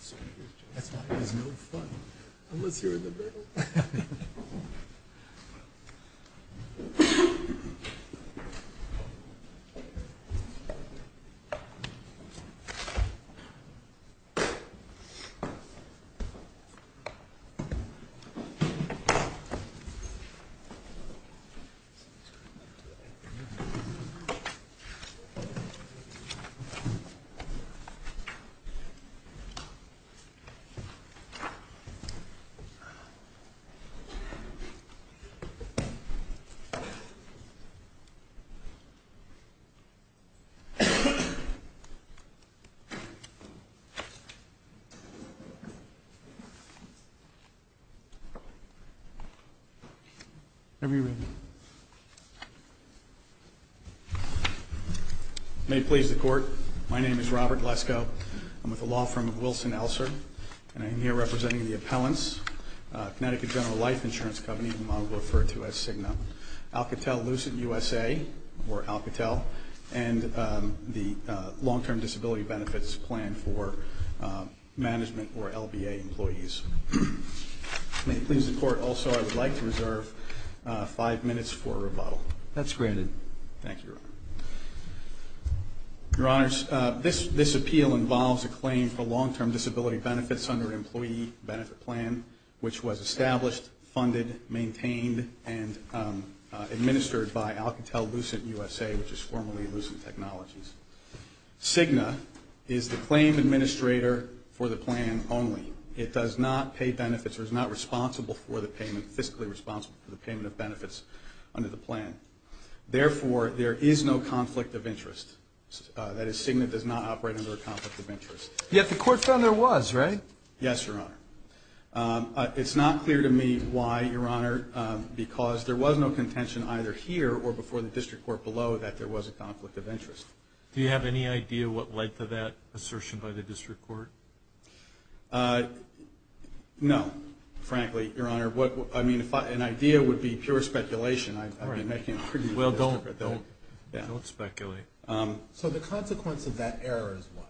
CIGNACorp is a non-profit organization based in New York City, United States. CIGNACorp is a non-profit organization based in New York City, United States. May it please the Court, my name is Robert Glesko. I'm with the law firm of Wilson Elser. May it please the Court, my name is Robert Glesko. I'm with the law firm of Wilson Elser. And I am here representing the appellants, Connecticut General Life Insurance Company, which I'll refer to as CIGNA, Alcatel-Lucent USA, or Alcatel, and the Long-Term Disability Benefits Plan for management or LBA employees. May it please the Court, also I would like to reserve five minutes for rebuttal. That's granted. Thank you, Your Honor. Your Honor, this appeal involves a claim for long-term disability benefits under an employee benefit plan, which was established, funded, maintained, and administered by Alcatel-Lucent USA, which is formerly Lucent Technologies. CIGNA is the claim administrator for the plan only. It does not pay benefits or is not responsible for the payment, fiscally responsible for the payment of benefits under the plan. Therefore, there is no conflict of interest. That is, CIGNA does not operate under a conflict of interest. Yet the Court found there was, right? Yes, Your Honor. It's not clear to me why, Your Honor, because there was no contention either here or before the district court below that there was a conflict of interest. Do you have any idea what led to that assertion by the district court? No, frankly, Your Honor. I mean, an idea would be pure speculation. I'm making a pretty good argument. Well, don't speculate. So the consequence of that error is what?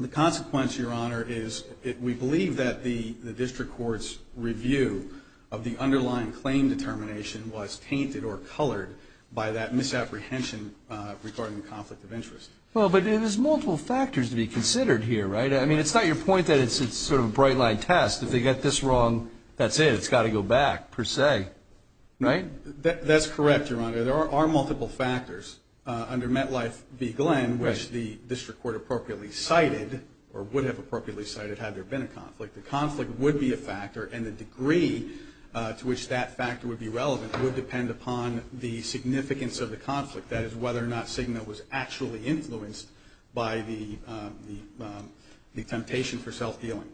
The consequence, Your Honor, is we believe that the district court's review of the underlying claim determination was painted or colored by that misapprehension regarding the conflict of interest. Well, but there's multiple factors to be considered here, right? I mean, it's not your point that it's a sort of bright-line test. If they get this wrong, that's it. It's got to go back, per se, right? That's correct, Your Honor. There are multiple factors. Under MetLife v. Glenn, which the district court appropriately cited or would have appropriately cited had there been a conflict, the conflict would be a factor, and the degree to which that factor would be relevant would depend upon the significance of the conflict, that is, whether or not Cigna was actually influenced by the temptation for self-dealing.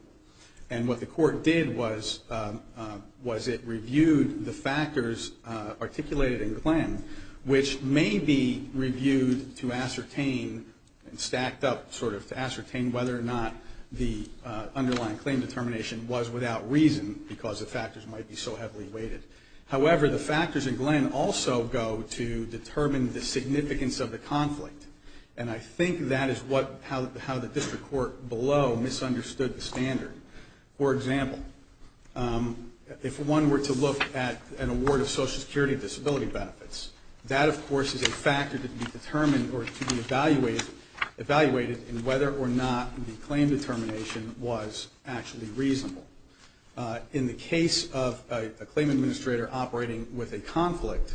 Which may be reviewed to ascertain, and stacked up sort of to ascertain whether or not the underlying claim determination was without reason because the factors might be so heavily weighted. However, the factors in Glenn also go to determine the significance of the conflict, and I think that is how the district court below misunderstood the standard. For example, if one were to look at an award of social security disability benefits, that, of course, is a factor to be determined or to be evaluated in whether or not the claim determination was actually reasonable. In the case of a claim administrator operating with a conflict,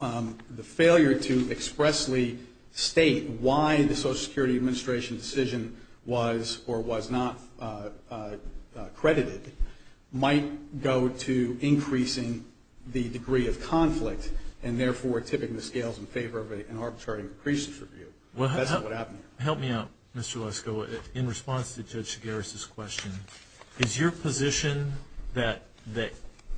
the failure to expressly state why the social security administration decision was or was not credited might go to increasing the degree of conflict, and therefore tipping the scales in favor of an arbitrary increases review. That's not what happened. Help me out, Mr. Lesko. In response to Shigeru's question, is your position that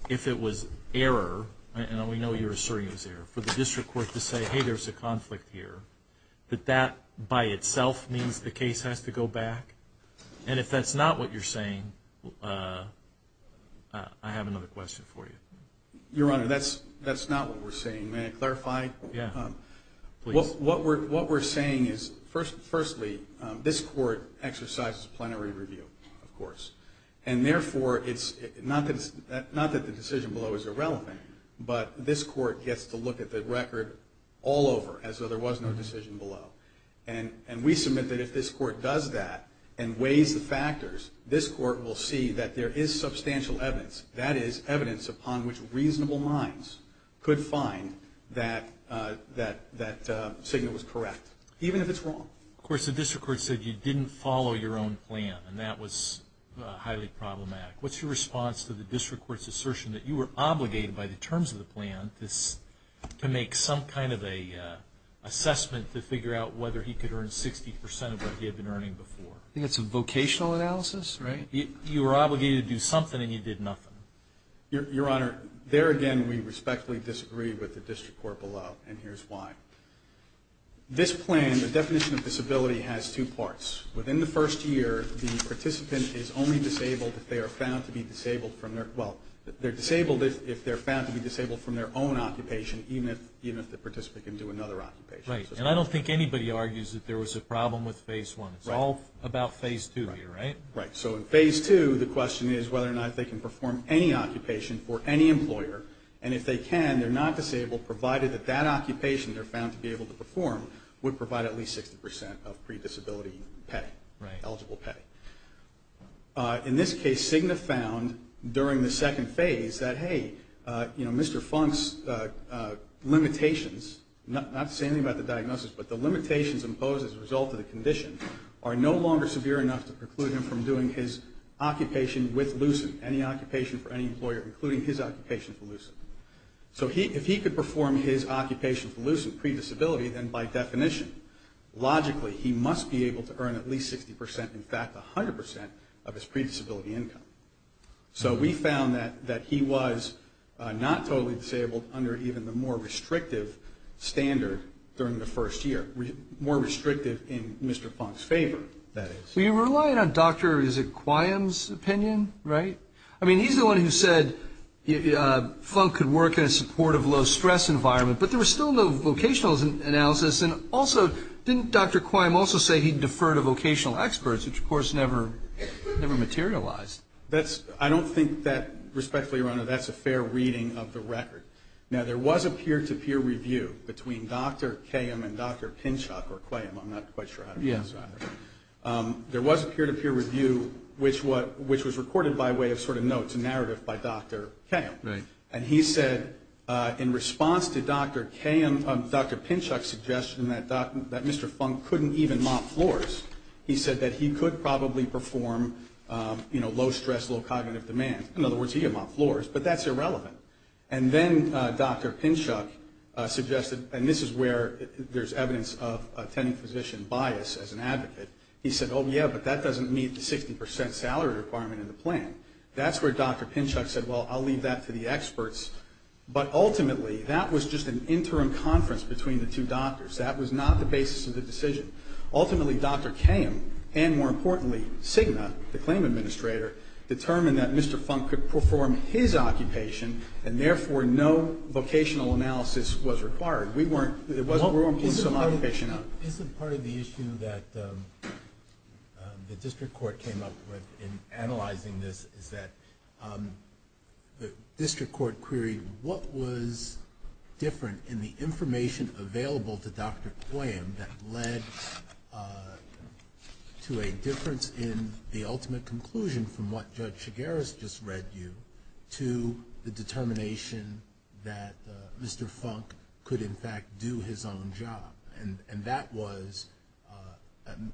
if it was error, and we know you're asserting it's error, for the district court to say, hey, there's a conflict here, that that by itself means the case has to go back? And if that's not what you're saying, I have another question for you. Your Honor, that's not what we're saying. May I clarify? Yeah. What we're saying is, firstly, this court exercises plenary review, of course, and therefore it's not that the decision below is irrelevant, but this court gets to look at the record all over as though there was no decision below. And we submit that if this court does that and weighs the factors, this court will see that there is substantial evidence. That is, evidence upon which reasonable minds could find that signal was correct, even if it's wrong. Of course, the district court said you didn't follow your own plan, and that was highly problematic. What's your response to the district court's assertion that you were obligated, by the terms of the plan, to make some kind of an assessment to figure out whether he could earn 60% of what he had been earning before? I think it's a vocational analysis, right? You were obligated to do something, and you did nothing. Your Honor, there again, we respectfully disagree with the district court below, and here's why. This plan, the definition of disability, has two parts. Within the first year, the participant is only disabled if they are found to be disabled from their own occupation, even if the participant can do another occupation. Right, and I don't think anybody argues that there was a problem with Phase 1. It's all about Phase 2 here, right? Right, so in Phase 2, the question is whether or not they can perform any occupation for any employer, and if they can, they're not disabled, provided that that occupation they're found to be able to perform would provide at least 60% of predisability pay, eligible pay. In this case, Cigna found during the second phase that, hey, Mr. Funk's limitations, not to say anything about the diagnosis, but the limitations imposed as a result of the condition are no longer severe enough to preclude him from doing his occupation with LUCID, any occupation for any employer, including his occupation for LUCID. So if he could perform his occupation for LUCID predisability, then by definition, logically, he must be able to earn at least 60%, in fact, 100% of his predisability income. So we found that he was not totally disabled under even the more restrictive standard during the first year, more restrictive in Mr. Funk's favor, that is. So you're relying on Dr., is it, Quiam's opinion, right? I mean, he's the one who said Funk could work in a supportive, low-stress environment, but there was still no vocational analysis. And also, didn't Dr. Quiam also say he deferred a vocational expert, which, of course, never materialized? I don't think that, respectfully, Ronald, that's a fair reading of the record. Now, there was a peer-to-peer review between Dr. Quiam and Dr. Pinchuk, or Quiam. I'm not quite sure how to pronounce that. There was a peer-to-peer review, which was recorded by way of sort of notes, a narrative by Dr. Quiam. And he said, in response to Dr. Pinchuk's suggestion that Mr. Funk couldn't even mop floors, he said that he could probably perform low-stress, low-cognitive demand. In other words, he could mop floors, but that's irrelevant. And then Dr. Pinchuk suggested, and this is where there's evidence of attending physician bias as an advocate. He said, oh, yeah, but that doesn't meet the 60% salary requirement in the plan. That's where Dr. Pinchuk said, well, I'll leave that to the experts. But ultimately, that was just an interim conference between the two doctors. That was not the basis of the decision. Ultimately, Dr. Quiam and, more importantly, Cigna, the claim administrator, determined that Mr. Funk could perform his occupation and, therefore, no vocational analysis was required. It wasn't room for some occupation. It's a part of the issue that the district court came up with in analyzing this, is that the district court queried what was different in the information available to Dr. Quiam that led to a difference in the ultimate conclusion from what Judge Chigares just read you to the determination that Mr. Funk could, in fact, do his own job. And that was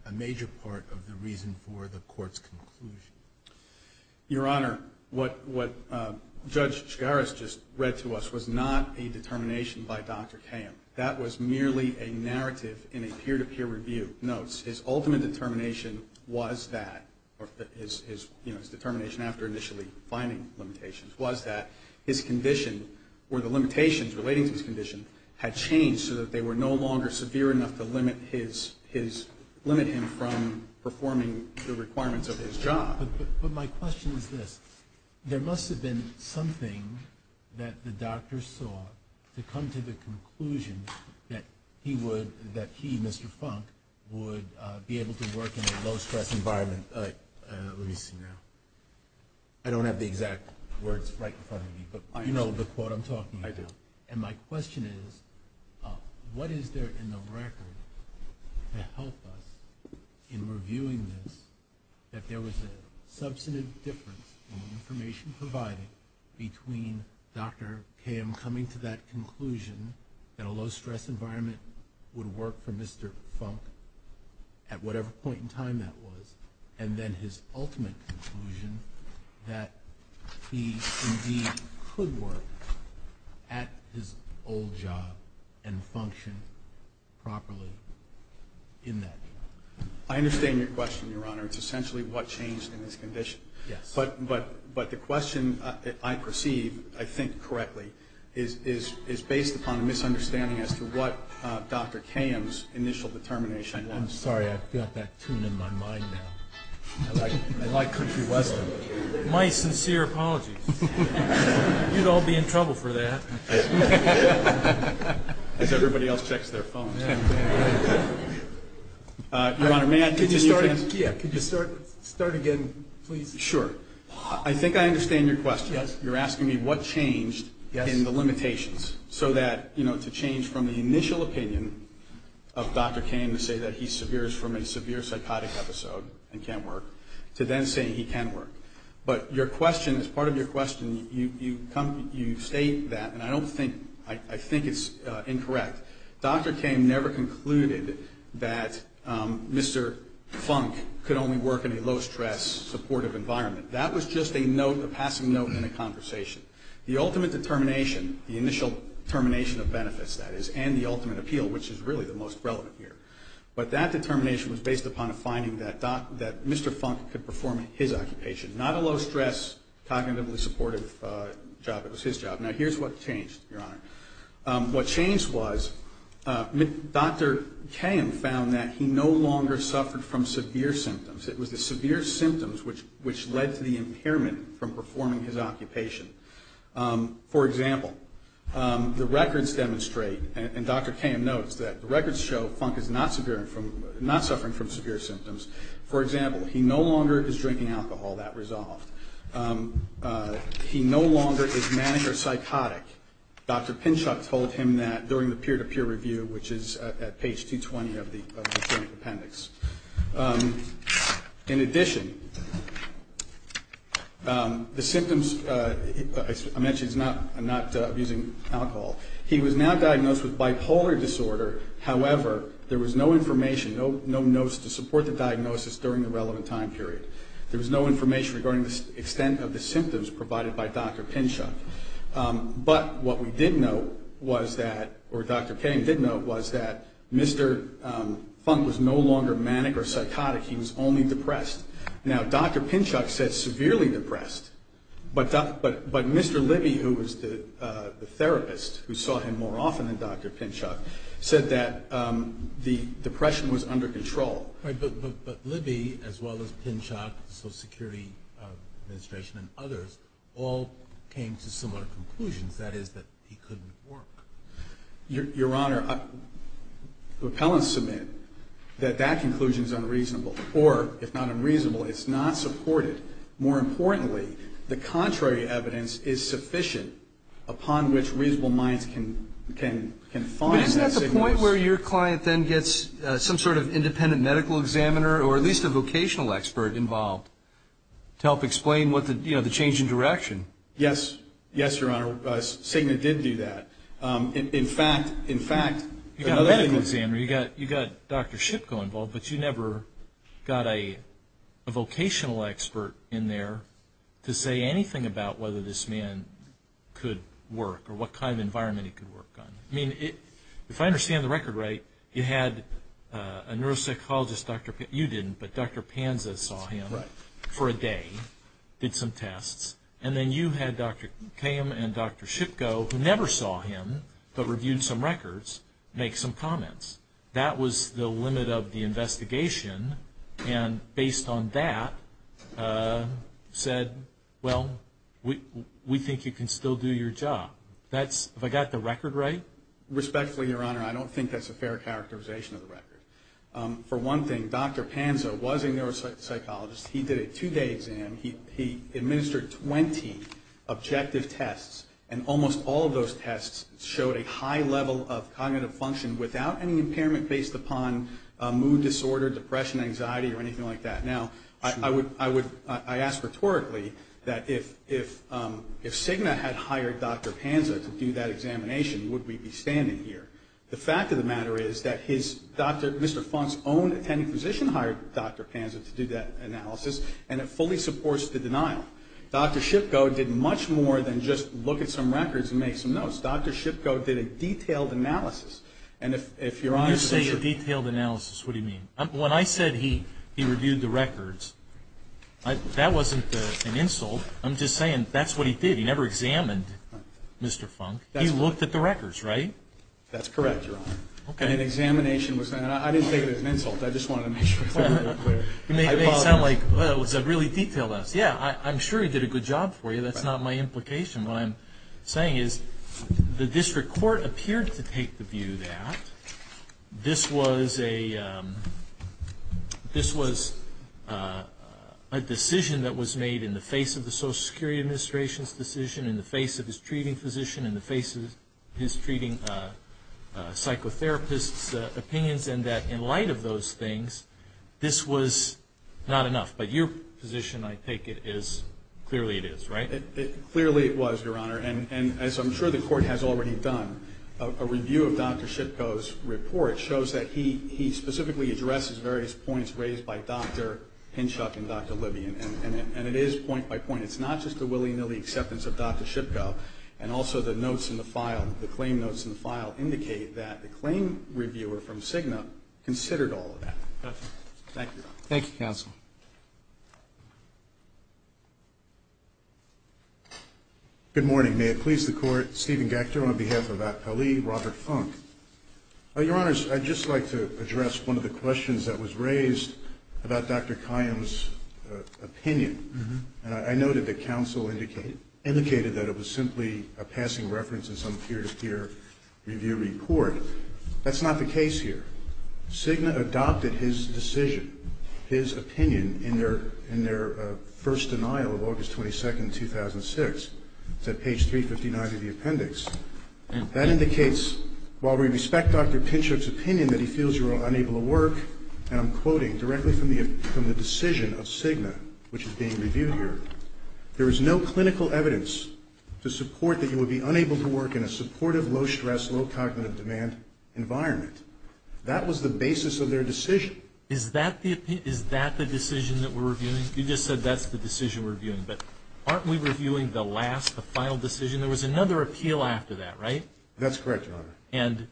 a major part of the reason for the court's conclusion. Your Honor, what Judge Chigares just read to us was not a determination by Dr. Quiam. That was merely a narrative in a peer-to-peer review. No, his ultimate determination was that, his determination after initially finding limitations, was that his condition or the limitations relating to his condition had changed so that they were no longer severe enough to limit him from performing the requirements of his job. But my question is this. There must have been something that the doctor saw to come to the conclusion that he would, that he, Mr. Funk, would be able to work in a low-stress environment, at least, you know. I don't have the exact words right in front of me, but I know the court I'm talking about. I do. And my question is, what is there in the record to help us in reviewing this, that there was a substantive difference in the information provided between Dr. Quiam coming to that conclusion that a low-stress environment would work for Mr. Funk at whatever point in time that was, and then his ultimate conclusion that he indeed could work at his old job and function properly in that job? I understand your question, Your Honor. It's essentially what changed in his condition. Yes. But the question I perceive, I think correctly, is based upon a misunderstanding as to what Dr. Quiam's initial determination was. I'm sorry. I've got that tune in my mind now. I like country westerns. My sincere apologies. You'd all be in trouble for that. Everybody else checks their phones. Your Honor, may I continue? Yes. Could you start again, please? Sure. I think I understand your question. Yes. You're asking me what changed in the limitations so that, you know, from the initial opinion of Dr. Quiam to say that he's severe from a severe psychotic episode and can't work, to then saying he can work. But your question, as part of your question, you state that, and I don't think, I think it's incorrect. Dr. Quiam never concluded that Mr. Funk could only work in a low-stress supportive environment. That was just a note, a passing note in a conversation. The ultimate determination, the initial determination of benefits, that is, and the ultimate appeal, which is really the most relevant here, but that determination was based upon a finding that Mr. Funk could perform his occupation, not a low-stress cognitively supportive job. It was his job. Now, here's what changed, your Honor. What changed was Dr. Quiam found that he no longer suffered from severe symptoms. It was the severe symptoms which led to the impairment from performing his occupation. For example, the records demonstrate, and Dr. Quiam notes, that the records show Funk is not suffering from severe symptoms. For example, he no longer is drinking alcohol, that resolved. He no longer is manic or psychotic. Dr. Pinchot told him that during the peer-to-peer review, which is at page 220 of the appendix. In addition, the symptoms, I mentioned he's not using alcohol. He was now diagnosed with bipolar disorder. However, there was no information, no notes to support the diagnosis during the relevant time period. There was no information regarding the extent of the symptoms provided by Dr. Pinchot. But what we did note, or Dr. Quiam did note, was that Mr. Funk was no longer manic or psychotic. He was only depressed. Now, Dr. Pinchot said severely depressed, but Mr. Libby, who was the therapist who saw him more often than Dr. Pinchot, said that the depression was under control. But Libby, as well as Pinchot, the Social Security Administration, and others, all came to similar conclusions, that is that he couldn't work. Your Honor, repellents submit that that conclusion is unreasonable. Or, if not unreasonable, it's not supported. More importantly, the contrary evidence is sufficient upon which reasonable minds can find that signal. Is there a point where your client then gets some sort of independent medical examiner or at least a vocational expert involved to help explain the change in direction? Yes, Your Honor. SIGMA did do that. In fact, you've got a medical examiner, you've got Dr. Shipko involved, but you never got a vocational expert in there to say anything about whether this man could work or what kind of environment he could work on. I mean, if I understand the record right, you had a neuropsychologist, you didn't, but Dr. Panza saw him for a day, did some tests, and then you had Dr. Kame and Dr. Shipko, who never saw him but reviewed some records, make some comments. That was the limit of the investigation, and based on that, said, well, we think you can still do your job. If I got the record right? Respectfully, Your Honor, I don't think that's a fair characterization of the record. For one thing, Dr. Panza was a neuropsychologist. He did a two-day exam. He administered 20 objective tests, and almost all of those tests showed a high level of cognitive function without any impairment based upon mood disorder, depression, anxiety, or anything like that. Now, I ask rhetorically that if SIGNA had hired Dr. Panza to do that examination, would we be standing here? The fact of the matter is that Mr. Funk's own attending physician hired Dr. Panza to do that analysis, and it fully supports the denial. Dr. Shipko did much more than just look at some records and make some notes. Dr. Shipko did a detailed analysis, and if you're honest... When you say a detailed analysis, what do you mean? When I said he reviewed the records, that wasn't an insult. I'm just saying that's what he did. He never examined Mr. Funk. He looked at the records, right? That's correct, Your Honor. Okay. An examination was done. I didn't take it as an insult. I just wanted to make sure. You may sound like, well, it was a really detailed analysis. Yeah, I'm sure he did a good job for you. That's not my implication. What I'm saying is the district court appeared to take the view that this was a decision that was made in the face of the Social Security Administration's decision, in the face of his treating physician, in the face of his treating psychotherapist's opinions, and that in light of those things, this was not enough. But your position, I take it, is clearly it is, right? Clearly it was, Your Honor, and as I'm sure the court has already done, a review of Dr. Shipko's report shows that he specifically addresses various points raised by Dr. Hinchoff and Dr. Libby, and it is point by point. It's not just the willy-nilly acceptance of Dr. Shipko, and also the notes in the file, the claim notes in the file indicate that the claim reviewer from CIGNA considered all of that. Thank you. Thank you, counsel. Good morning. May it please the Court, Stephen Gector on behalf of Ali, Robert Funk. Your Honors, I'd just like to address one of the questions that was raised about Dr. Kayyem's opinion. I noted that counsel indicated that it was simply a passing reference in some peer-to-peer review report. That's not the case here. CIGNA adopted his decision, his opinion, in their first denial of August 22nd, 2006. It's at page 359 of the appendix. And that indicates, while we respect Dr. Hinchoff's opinion that he feels you are unable to work, and I'm quoting directly from the decision of CIGNA, which is being reviewed here, there is no clinical evidence to support that you would be unable to work in a supportive, low-stress, low-cognitive-demand environment. That was the basis of their decision. Is that the decision that we're reviewing? You just said that's the decision we're reviewing. But aren't we reviewing the last, the final decision? There was another appeal after that, right? That's correct, Your Honor. And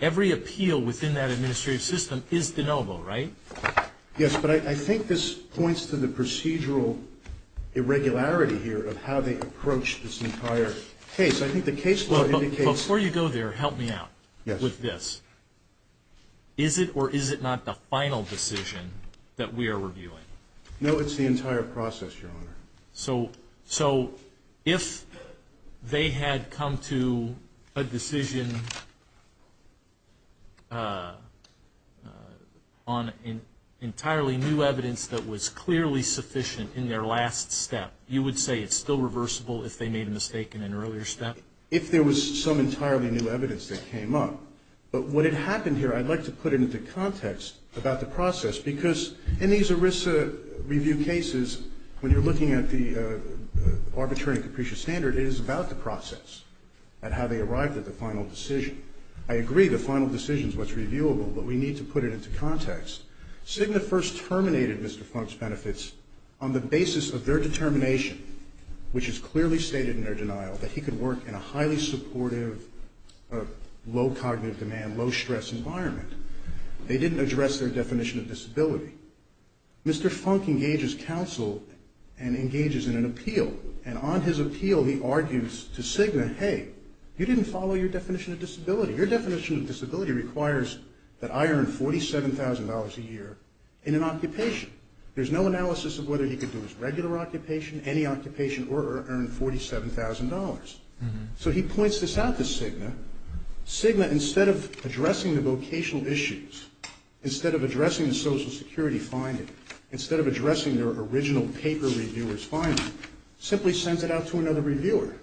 every appeal within that administrative system is de novo, right? Yes, but I think this points to the procedural irregularity here of how they approach this entire case. I think the case law indicates— Before you go there, help me out with this. Is it or is it not the final decision that we are reviewing? So if they had come to a decision on entirely new evidence that was clearly sufficient in their last step, you would say it's still reversible if they made a mistake in an earlier step? If there was some entirely new evidence that came up. But what had happened here, I'd like to put it into context about the process, because in these ERISA review cases, when you're looking at the arbitrary and capricious standard, it is about the process and how they arrived at the final decision. I agree the final decision is what's reviewable, but we need to put it into context. Cigna first terminated Mr. Plunk's benefits on the basis of their determination, which is clearly stated in their denial, that he could work in a highly supportive, low cognitive demand, low stress environment. They didn't address their definition of disability. Mr. Plunk engages counsel and engages in an appeal. And on his appeal he argues to Cigna, hey, you didn't follow your definition of disability. Your definition of disability requires that I earn $47,000 a year in an occupation. There's no analysis of whether you could do a regular occupation, any occupation, or earn $47,000. So he points this out to Cigna. Cigna, instead of addressing the vocational issues, instead of addressing the Social Security finding, instead of addressing their original paper reviewer's finding, simply sends it out to another reviewer.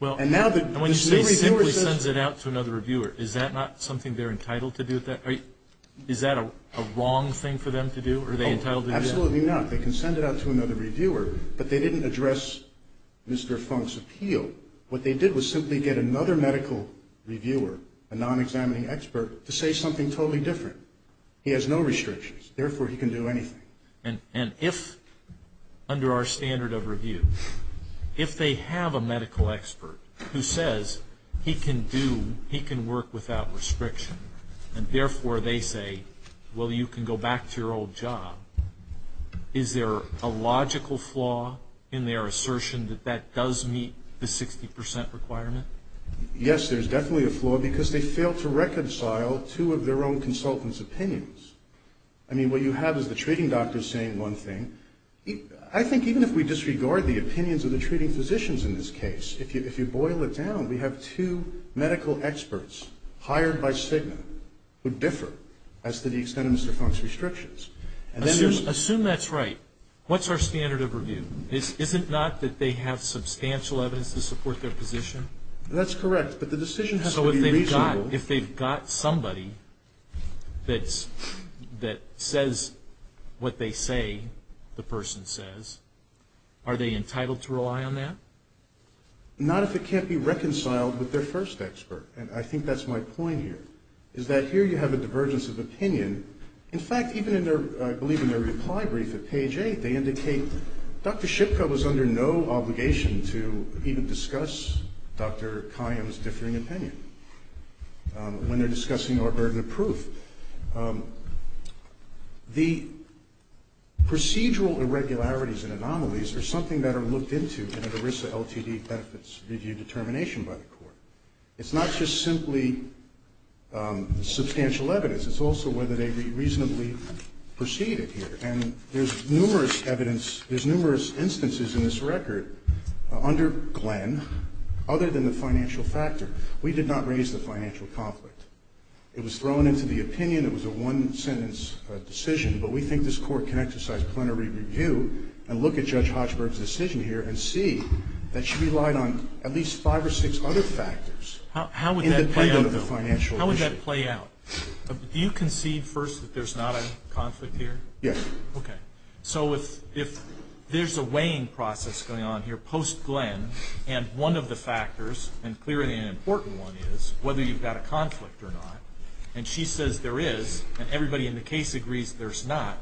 Well, when Cigna sends it out to another reviewer, is that not something they're entitled to do? Is that a wrong thing for them to do? Absolutely not. They can send it out to another reviewer, but they didn't address Mr. Plunk's appeal. What they did was simply get another medical reviewer, a non-examining expert, to say something totally different. He has no restrictions. Therefore, he can do anything. And if, under our standard of review, if they have a medical expert who says he can do, he can work without restriction, and therefore they say, well, you can go back to your old job, is there a logical flaw in their assertion that that does meet the 60% requirement? Yes, there's definitely a flaw because they failed to reconcile two of their own consultants' opinions. I mean, what you have is the treating doctor saying one thing. I think even if we disregard the opinions of the treating physicians in this case, if you boil it down, we have two medical experts hired by Cigna who differ as to the extent of Mr. Plunk's restrictions. Assume that's right. What's our standard of review? Is it not that they have substantial evidence to support their position? That's correct, but the decision has to be reasonable. So if they've got somebody that says what they say the person says, are they entitled to rely on that? Not if it can't be reconciled with their first expert, and I think that's my point here, is that here you have a divergence of opinion. In fact, even in their, I believe in their reply brief at page 8, they indicate Dr. Shipka was under no obligation to even discuss Dr. Kayan's differing opinion when they're discussing our burden of proof. The procedural irregularities and anomalies are something that are looked into in an ERISA LTD test that's reviewed determination by the court. It's not just simply substantial evidence. It's also whether they reasonably proceeded here, and there's numerous evidence, there's numerous instances in this record under Glenn other than the financial factor. We did not raise the financial conflict. It was thrown into the opinion. It was a one-sentence decision, but we think this court can exercise plenary review and look at Judge Hochberg's decision here and see that she relied on at least five or six other factors. How would that play out? How would that play out? Do you concede first that there's not a conflict here? Yes. Okay. So if there's a weighing process going on here post-Glenn, and one of the factors, and clearly an important one is whether you've got a conflict or not, and she says there is, and everybody in the case agrees there's not,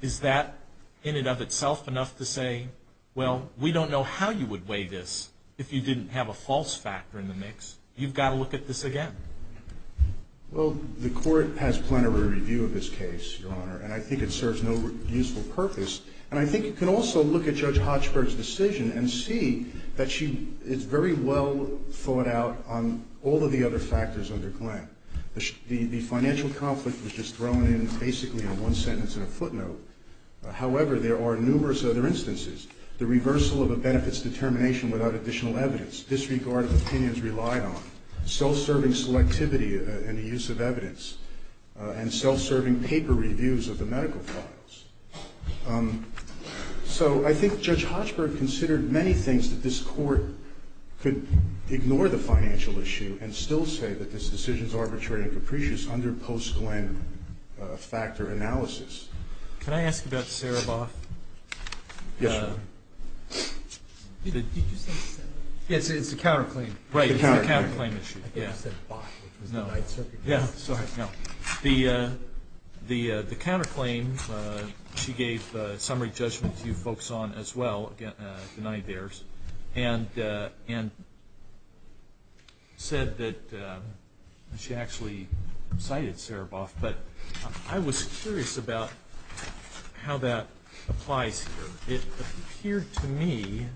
is that in and of itself enough to say, well, we don't know how you would weigh this if you didn't have a false factor in the mix? You've got to look at this again. Well, the court has plenary review of this case, Your Honor, and I think it serves no useful purpose, and I think it can also look at Judge Hochberg's decision and see that she is very well thought out on all of the other factors under Glenn. The financial conflict was just thrown in basically in one sentence in a footnote. However, there are numerous other instances. The reversal of a benefit's determination without additional evidence, disregarded opinions relied on, self-serving selectivity in the use of evidence, and self-serving paper reviews of the medical problems. So I think Judge Hochberg considered many things that this court could ignore the financial issue and still say that this decision is arbitrary and capricious under post-Glenn factor analysis. Can I ask you about Sara Boss? Yes, Your Honor. It's the counterclaim. Right, it's the counterclaim issue. Yeah, sorry. The counterclaim she gave summary judgment to folks on as well, the Nanny Bears, and said that she actually cited Sara Boss, but I was curious about how that applied to her. It appeared to me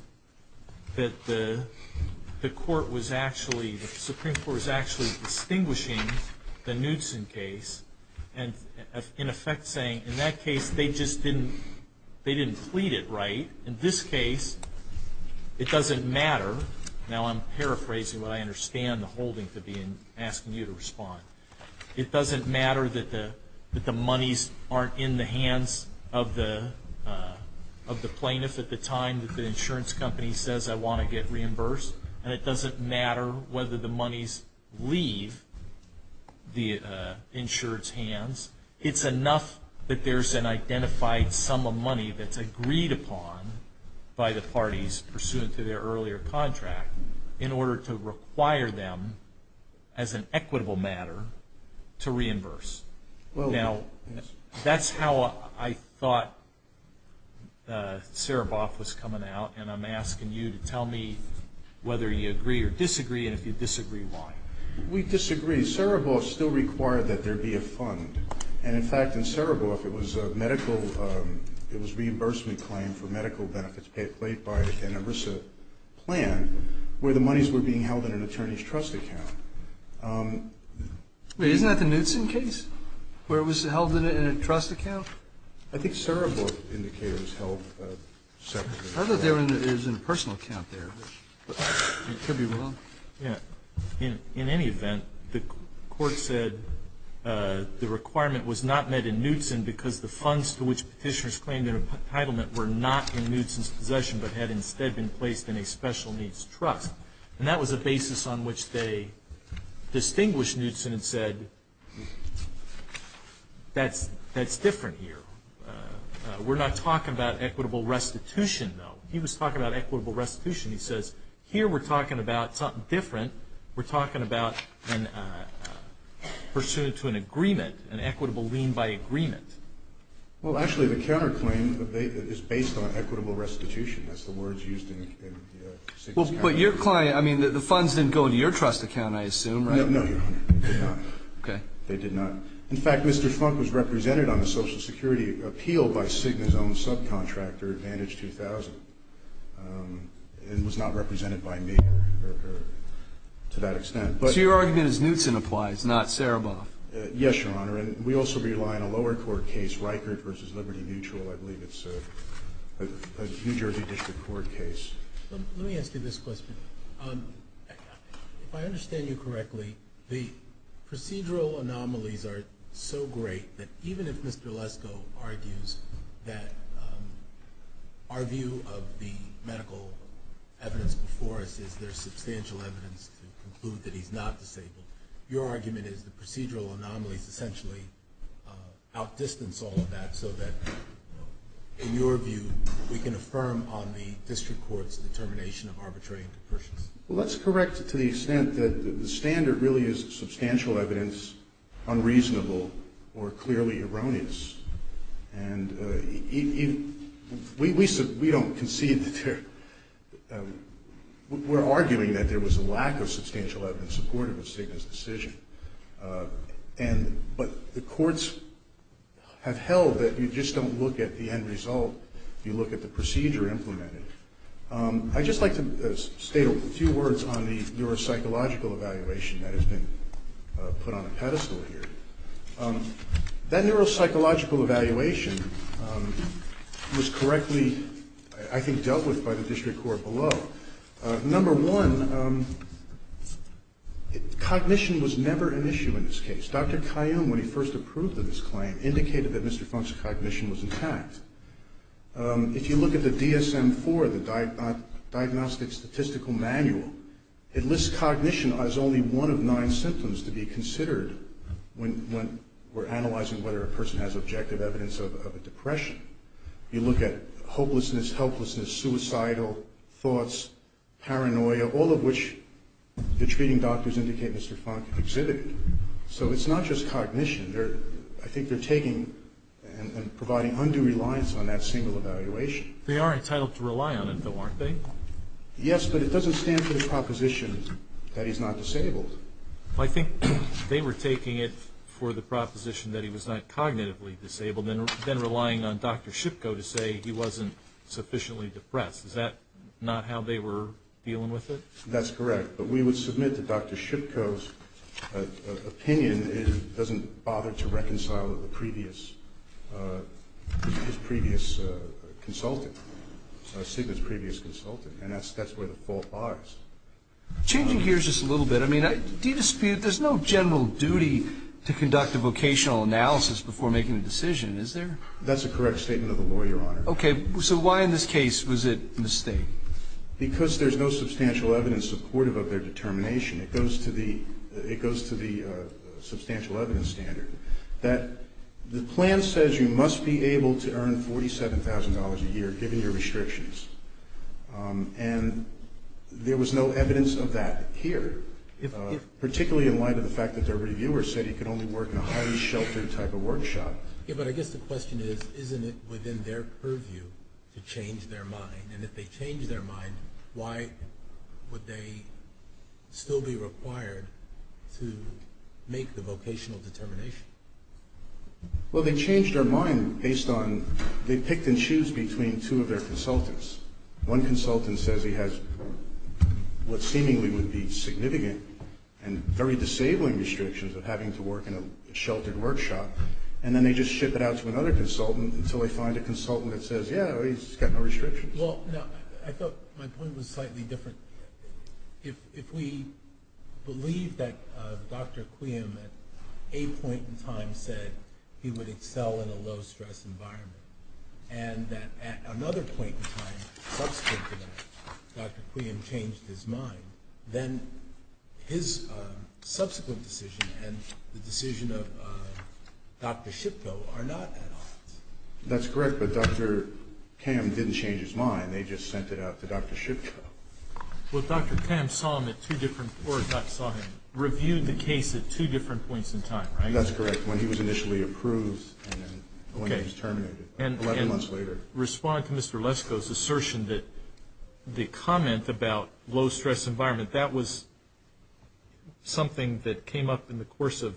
that the Supreme Court was actually distinguishing the Knudsen case and in effect saying in that case they just didn't plead it right. In this case, it doesn't matter. Now, I'm paraphrasing what I understand the holding could be in asking you to respond. It doesn't matter that the monies aren't in the hands of the plaintiff at the time that the insurance company says, I want to get reimbursed, and it doesn't matter whether the monies leave the insurance hands. It's enough that there's an identified sum of money that's agreed upon by the parties pursuant to their earlier contract in order to require them as an equitable matter to reimburse. Now, that's how I thought Sara Boss was coming out, and I'm asking you to tell me whether you agree or disagree, and if you disagree, why. We disagree. We disagree. Sara Boss still required that there be a fund, and in fact, in Sara Boss, it was a reimbursement claim for medical benefits paid by the Canarissa plan where the monies were being held in an attorney's trust account. Wait, isn't that the Knudsen case where it was held in a trust account? I think Sara Boss indicated it was held separately. I thought there was a personal account there. It could be wrong. In any event, the court said the requirement was not met in Knudsen because the funds to which petitioners claimed entitlement were not in Knudsen's possession but had instead been placed in a special needs trust, and that was a basis on which they distinguished Knudsen and said that's different here. We're not talking about equitable restitution, though. He was talking about equitable restitution. He says here we're talking about something different. We're talking about pursuant to an agreement, an equitable lien by agreement. Well, actually, the counterclaim is based on equitable restitution. That's the words used in Signe's case. But your client, I mean, the funds didn't go into your trust account, I assume, right? No, they did not. They did not. In fact, Mr. Funk was represented on the Social Security appeal by Signe's own subcontractor, Advantage 2000. It was not represented by me to that extent. So your argument is Knudsen applies, not Saraboff. Yes, Your Honor. We also rely on a lower court case, Reichert v. Liberty Mutual, I believe. It's a New Jersey District Court case. Let me ask you this question. If I understand you correctly, the procedural anomalies are so great that even if Mr. Lesko argues that our view of the medical evidence before us is there's substantial evidence to conclude that he's not disabled, your argument is the procedural anomalies essentially outdistance all of that so that, in your view, we can affirm on the district court's determination of arbitrary interpersonal abuse. Well, that's correct to the extent that the standard really is substantial evidence, unreasonable, or clearly erroneous. We're arguing that there was a lack of substantial evidence supportive of Signe's decision. But the courts have held that you just don't look at the end result. You look at the procedure implemented. I'd just like to say a few words on the neuropsychological evaluation that has been put on a pedestal here. That neuropsychological evaluation was correctly, I think, dealt with by the district court below. Number one, cognition was never an issue in this case. Dr. Caillou, when he first approved of this claim, indicated that Mr. Funk's cognition was intact. If you look at the DSM-IV, the Diagnostic Statistical Manual, it lists cognition as only one of nine symptoms to be considered when we're analyzing whether a person has objective evidence of a depression. You look at hopelessness, helplessness, suicidal thoughts, paranoia, all of which the treating doctors indicate Mr. Funk exhibited. So it's not just cognition. I think they're taking and providing undue reliance on that single evaluation. They are entitled to rely on it, though, aren't they? Yes, but it doesn't stand for the proposition that he's not disabled. I think they were taking it for the proposition that he was not cognitively disabled, then relying on Dr. Shipko to say he wasn't sufficiently depressed. Is that not how they were dealing with it? That's correct. But we would submit that Dr. Shipko's opinion doesn't bother to reconcile with his previous consultant, Sigler's previous consultant, and that's where the fault lies. Changing gears just a little bit, I mean, there's no general duty to conduct a vocational analysis before making a decision, is there? That's a correct statement of a lawyer, Your Honor. Okay. So why in this case was it a mistake? Because there's no substantial evidence supportive of their determination. It goes to the substantial evidence standard. The plan says you must be able to earn $47,000 a year given your restrictions, and there was no evidence of that here, particularly in light of the fact that their reviewer said he can only work in a highly sheltered type of workshop. Yes, but I guess the question is, isn't it within their purview to change their mind? And if they change their mind, why would they still be required to make the vocational determination? Well, they changed their mind based on they picked and choose between two of their consultants. One consultant says he has what seemingly would be significant and very disabling restrictions of having to work in a sheltered workshop, and then they just ship it out to another consultant until they find a consultant that says, yeah, he's got no restrictions. Well, no, I thought my point was slightly different. If we believe that Dr. Cleum at a point in time said he would excel in a low-stress environment and that at another point in time, subsequent to that, Dr. Cleum changed his mind, then his subsequent decision and the decision of Dr. Shipko are not at odds. That's correct, but Dr. Cleum didn't change his mind. They just sent it out to Dr. Shipko. Well, Dr. Cleum saw him at two different floors, not saw him reviewing the case at two different points in time, right? That's correct, when he was initially approved and when he was terminated 11 months later. In response to Mr. Lesko's assertion that the comment about low-stress environment, that was something that came up in the course of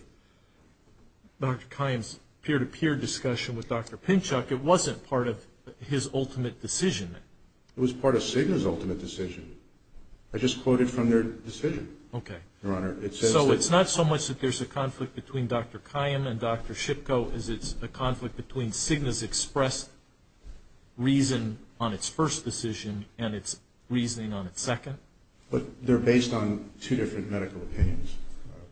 Dr. Cleum's peer-to-peer discussion with Dr. Pinchuk. It wasn't part of his ultimate decision. It was part of Cigna's ultimate decision. So it's not so much that there's a conflict between Dr. Cleum and Dr. Shipko as it's a conflict between Cigna's expressed reason on its first decision and its reasoning on its second. But they're based on two different medical opinions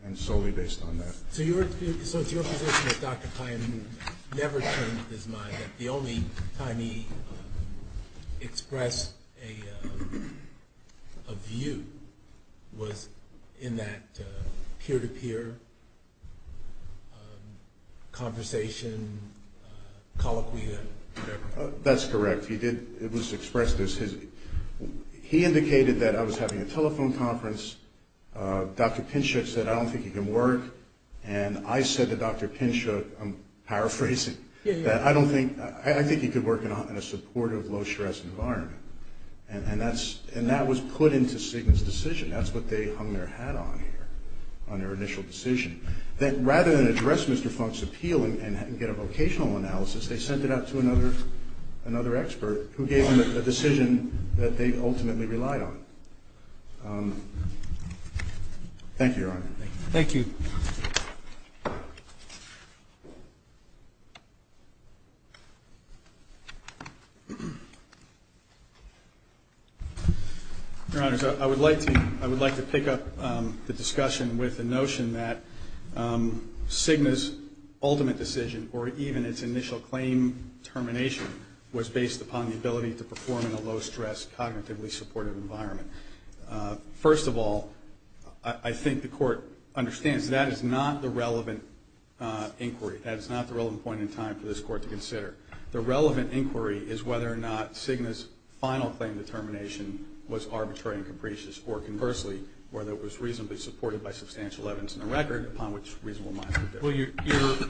and solely based on that. So your association with Dr. Cleum never changed his mind. The only time he expressed a view was in that peer-to-peer conversation, call it whatever. That's correct. It was expressed as he indicated that I was having a telephone conference. Dr. Pinchuk said, I don't think he can work. And I said to Dr. Pinchuk, I'm paraphrasing, that I think he could work in a supportive low-stress environment. And that was put into Cigna's decision. That's what they hung their hat on here on their initial decision. That rather than address Mr. Funk's appeal and get a vocational analysis, they sent it out to another expert who gave them a decision that they ultimately relied on. Thank you, Your Honor. Thank you. Your Honor, I would like to pick up the discussion with the notion that Cigna's ultimate decision or even its initial claim termination was based upon the ability to perform in a low-stress, cognitively supportive environment. First of all, I think the Court understands that is not the relevant inquiry. That is not the relevant point in time for this Court to consider. The relevant inquiry is whether or not Cigna's final claim determination was arbitrary and capricious or conversely, whether it was reasonably supported by substantial evidence in the record,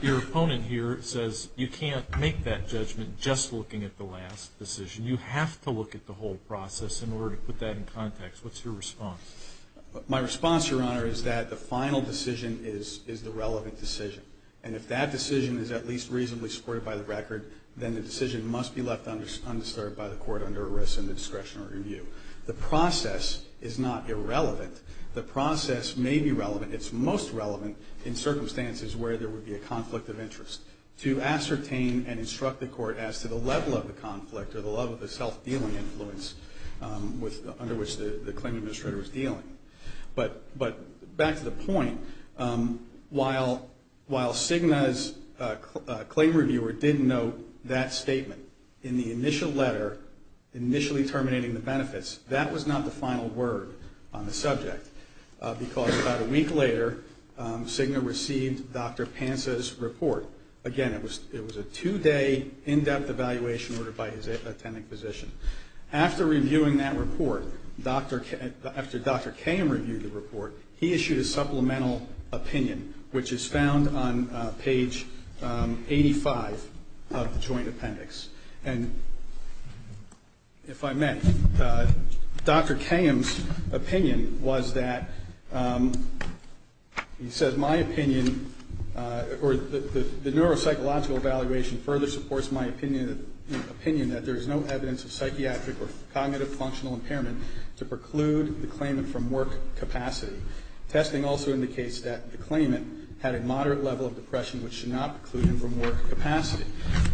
Your opponent here says you can't make that judgment just looking at the last decision. You have to look at the whole process in order to put that in context. What's your response? My response, Your Honor, is that the final decision is the relevant decision. And if that decision is at least reasonably supported by the record, then the decision must be left unserved by the Court under arrest and discretionary review. The process is not irrelevant. The process may be relevant. It's most relevant in circumstances where there would be a conflict of interest to ascertain and instruct the Court as to the level of the conflict or the level of the self-dealing influence under which the claim administrator is dealing. But back to the point, while Cigna's claim reviewer did note that statement in the initial letter, initially terminating the benefits, that was not the final word on the subject because about a week later, Cigna received Dr. Panza's report. Again, it was a two-day, in-depth evaluation by his attending physician. After reviewing that report, after Dr. Kayham reviewed the report, he issued a supplemental opinion, which is found on page 85 of the Joint Appendix. And if I may, Dr. Kayham's opinion was that, he said, my opinion or the neuropsychological evaluation further supports my opinion that there is no evidence of psychiatric or cognitive functional impairment to preclude the claimant from work capacity. Testing also indicates that the claimant had a moderate level of depression which should not preclude him from work capacity.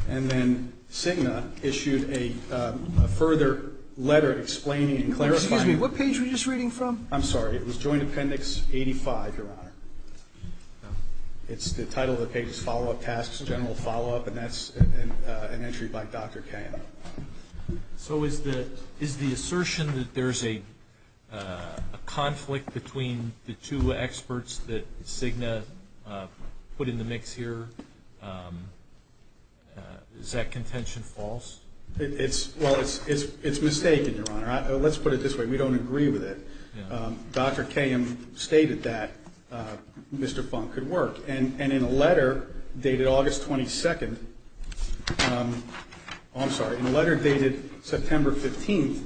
And then Cigna issued a further letter explaining and clarifying. Excuse me, what page were you just reading from? I'm sorry, it was Joint Appendix 85, Your Honor. It's the title that takes follow-up tasks, general follow-up, and that's an entry by Dr. Kayham. So is the assertion that there's a conflict between the two experts that Cigna put in the mix here, is that contention false? Well, it's mistaken, Your Honor. Let's put it this way, we don't agree with it. Dr. Kayham stated that Mr. Funk could work. And in a letter dated August 22nd, I'm sorry, in a letter dated September 15th,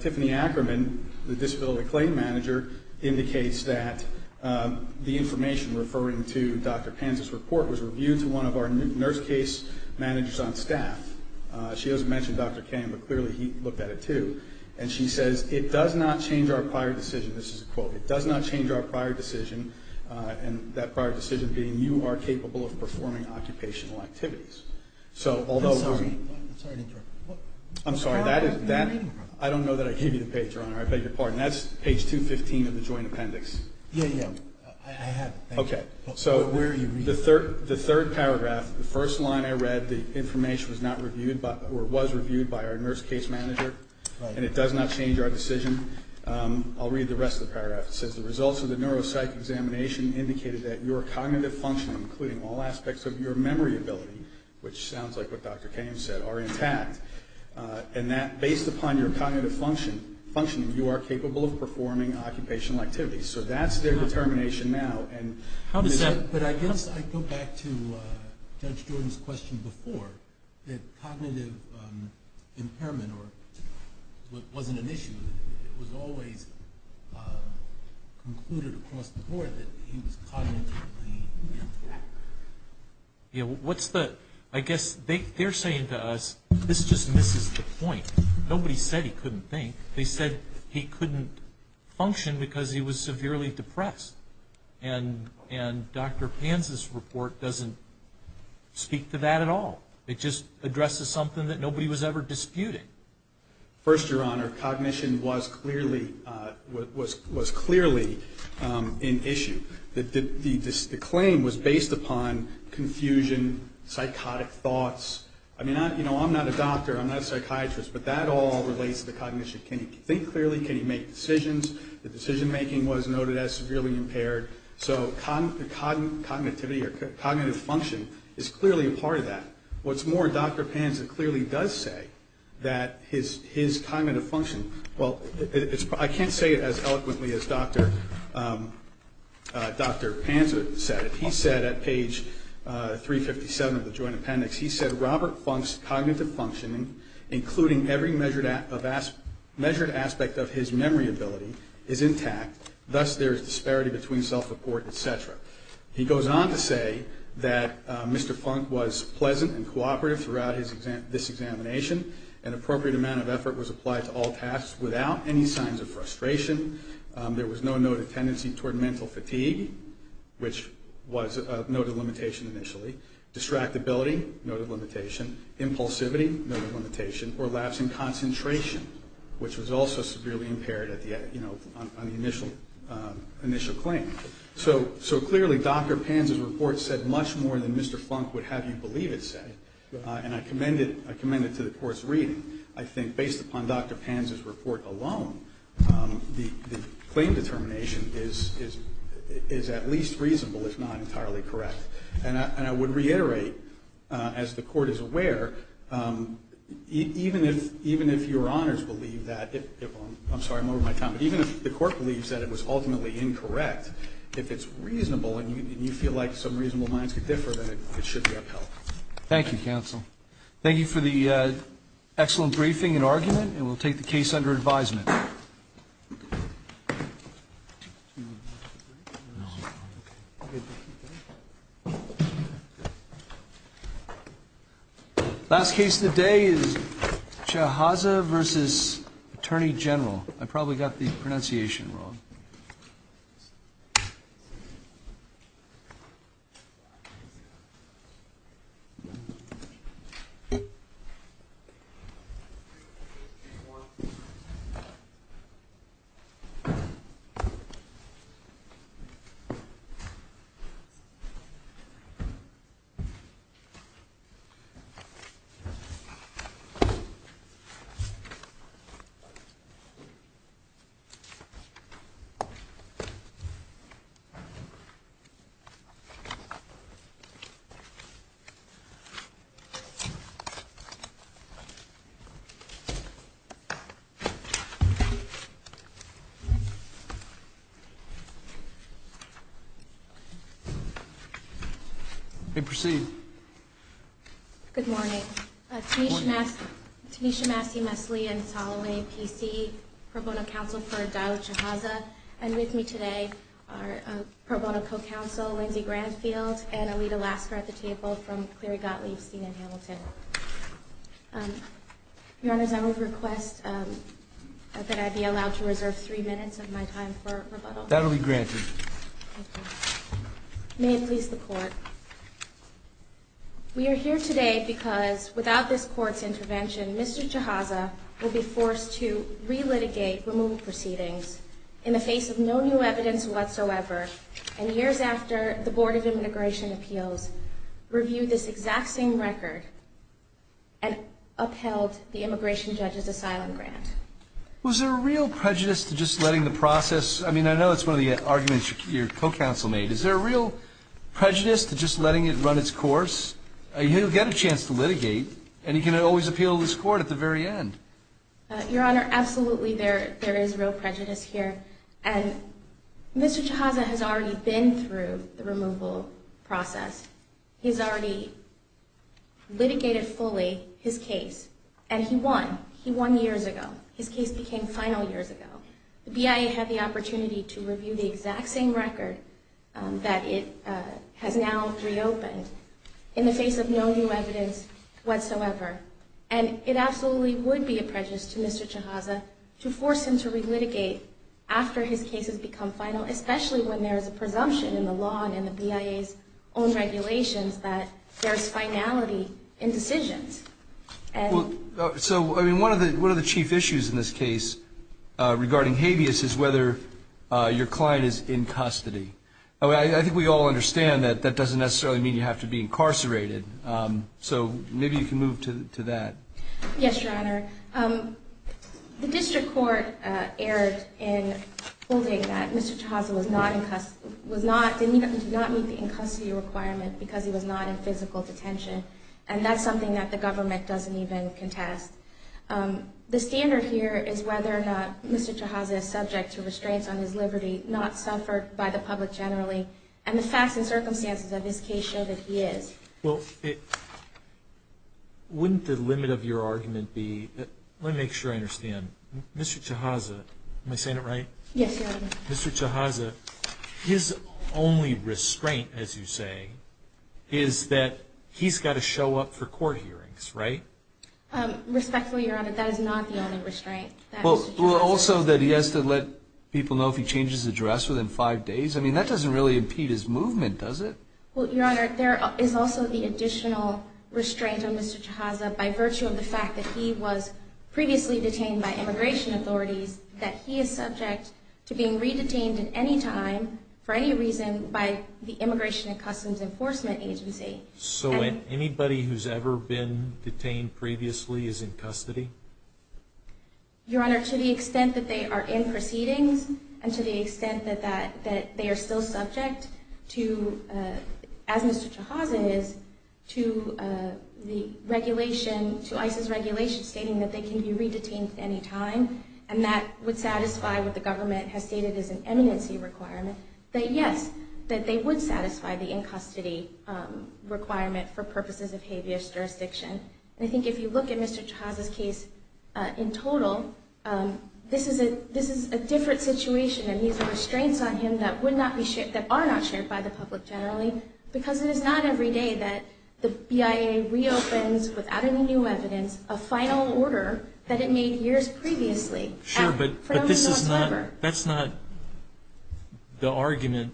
Tiffany Ackerman, the disability claim manager, indicates that the information referring to Dr. Penn's report was reviewed in one of our nurse case managers on staff. She doesn't mention Dr. Penn, but clearly he looked at it too. And she says, it does not change our prior decision, this is a quote, it does not change our prior decision, and that prior decision being, you are capable of performing occupational activities. I'm sorry, I don't know that I gave you the page, Your Honor. I beg your pardon. That's page 215 of the Joint Appendix. Yeah, yeah, I have it. Okay, so the third paragraph, the first line I read, the information was not reviewed or was reviewed by our nurse case manager, and it does not change our decision. I'll read the rest of the paragraph. It says the results of the neuropsych examination indicated that your cognitive function, including all aspects of your memory ability, which sounds like what Dr. Payne said, are in fact, and that based upon your cognitive function, you are capable of performing occupational activities. So that's their determination now. But I guess I go back to Judge Jordan's question before, that cognitive impairment wasn't an issue. It was always concluded across the board that he was cognitively impaired. Yeah, what's the, I guess they're saying to us, this just misses the point. Nobody said he couldn't think. They said he couldn't function because he was severely depressed, and Dr. Payne's report doesn't speak to that at all. It just addresses something that nobody was ever disputing. First, Your Honor, cognition was clearly an issue. The claim was based upon confusion, psychotic thoughts. I mean, you know, I'm not a doctor. I'm not a psychiatrist, but that all relates to cognition. Can he think clearly? Can he make decisions? The decision-making was noted as severely impaired. So cognitive function is clearly a part of that. What's more, Dr. Panza clearly does say that his cognitive function, well, I can't say it as eloquently as Dr. Panza said it. He said at page 357 of the joint appendix, he said, Robert Plunk's cognitive functioning, including every measured aspect of his memory ability, is intact. Thus, there is disparity between self-support, et cetera. He goes on to say that Mr. Plunk was pleasant and cooperative throughout this examination. An appropriate amount of effort was applied to all tasks without any signs of frustration. There was no noted tendency toward mental fatigue, which was a noted limitation initially. Distractibility, noted limitation. Impulsivity, noted limitation. Or lapse in concentration, which was also severely impaired on the initial claim. So clearly, Dr. Panza's report said much more than Mr. Plunk would have you believe it said. And I commend it to the court's reading. I think based upon Dr. Panza's report alone, the claim determination is at least reasonable if not entirely correct. And I would reiterate, as the court is aware, even if your honors believe that, I'm sorry, I'm over my time, but even if the court believes that it was ultimately incorrect, if it's reasonable, and you feel like some reasonable minds could differ, then it should be upheld. Thank you, counsel. Thank you for the excellent briefing and argument, and we'll take the case under advisement. Last case today is Shahaza v. Attorney General. I probably got the pronunciation wrong. Thank you. You may proceed. Good morning. Good morning. Tanisha Maskey-Mesley, and following T.C., pro bono counsel for Zahra Shahaza. And with me today are pro bono co-counsel, Lindsey Granfield, and Alita Lasker at the table from Cleary Gottlieb, Stephen Hamilton. Your honors, I would request that I be allowed to reserve three minutes of my time for rebuttal. That will be granted. Thank you. May it please the court. We are here today because without this court's intervention, Mr. Shahaza would be forced to re-litigate removal proceedings in the face of no new evidence whatsoever, and years after the Board of Immigration Appeals reviewed this exact same record and upheld the immigration judge's asylum grant. Was there a real prejudice to just letting the process, I mean, I know it's one of the arguments your co-counsel made. Is there a real prejudice to just letting it run its course? You get a chance to litigate, and you can always appeal to this court at the very end. Your honor, absolutely there is real prejudice here, and Mr. Shahaza has already been through the removal process. He's already litigated fully his case, and he won. He won years ago. His case became final years ago. The BIA had the opportunity to review the exact same record that it had now reopened in the face of no new evidence whatsoever, and it absolutely would be a prejudice to Mr. Shahaza to force him to re-litigate after his case has become final, especially when there is a presumption in the law and in the BIA's own regulations that there is finality in decisions. So one of the chief issues in this case regarding habeas is whether your client is in custody. I think we all understand that that doesn't necessarily mean you have to be incarcerated, so maybe you can move to that. Yes, your honor. The district court erred in holding that Mr. Shahaza did not meet the in-custody requirement because he was not in physical detention, and that's something that the government doesn't even contest. The standard here is whether or not Mr. Shahaza is subject to restraint on his liberty, not suffered by the public generally, and the facts and circumstances of this case show that he is. Well, wouldn't the limit of your argument be, let me make sure I understand. Mr. Shahaza, am I saying it right? Yes, your honor. Mr. Shahaza, his only restraint, as you say, is that he's got to show up for court hearings, right? Respectfully, your honor, that is not the only restraint. Well, also that he has to let people know if he changes his address within five days? I mean, that doesn't really impede his movement, does it? Well, your honor, there is also the additional restraint on Mr. Shahaza by virtue of the fact that he was previously detained by immigration authorities, that he is subject to being re-detained at any time, for any reason, by the Immigration and Customs Enforcement Agency. So anybody who's ever been detained previously is in custody? Your honor, to the extent that they are in proceedings, and to the extent that they are still subject to, as Mr. Shahaza is, to the regulation, to ICE's regulation stating that they can be re-detained at any time, and that would satisfy what the government has stated as an eminency requirement, that yes, that they would satisfy the in-custody requirement for purposes of habeas jurisdiction. And I think if you look at Mr. Shahaza's case in total, this is a different situation, a need for restraints on him that would not be shared, that are not shared by the public generally, because it is not every day that the BIA reopens without any new evidence, and a final order that it made years previously. Sure, but that's not the argument.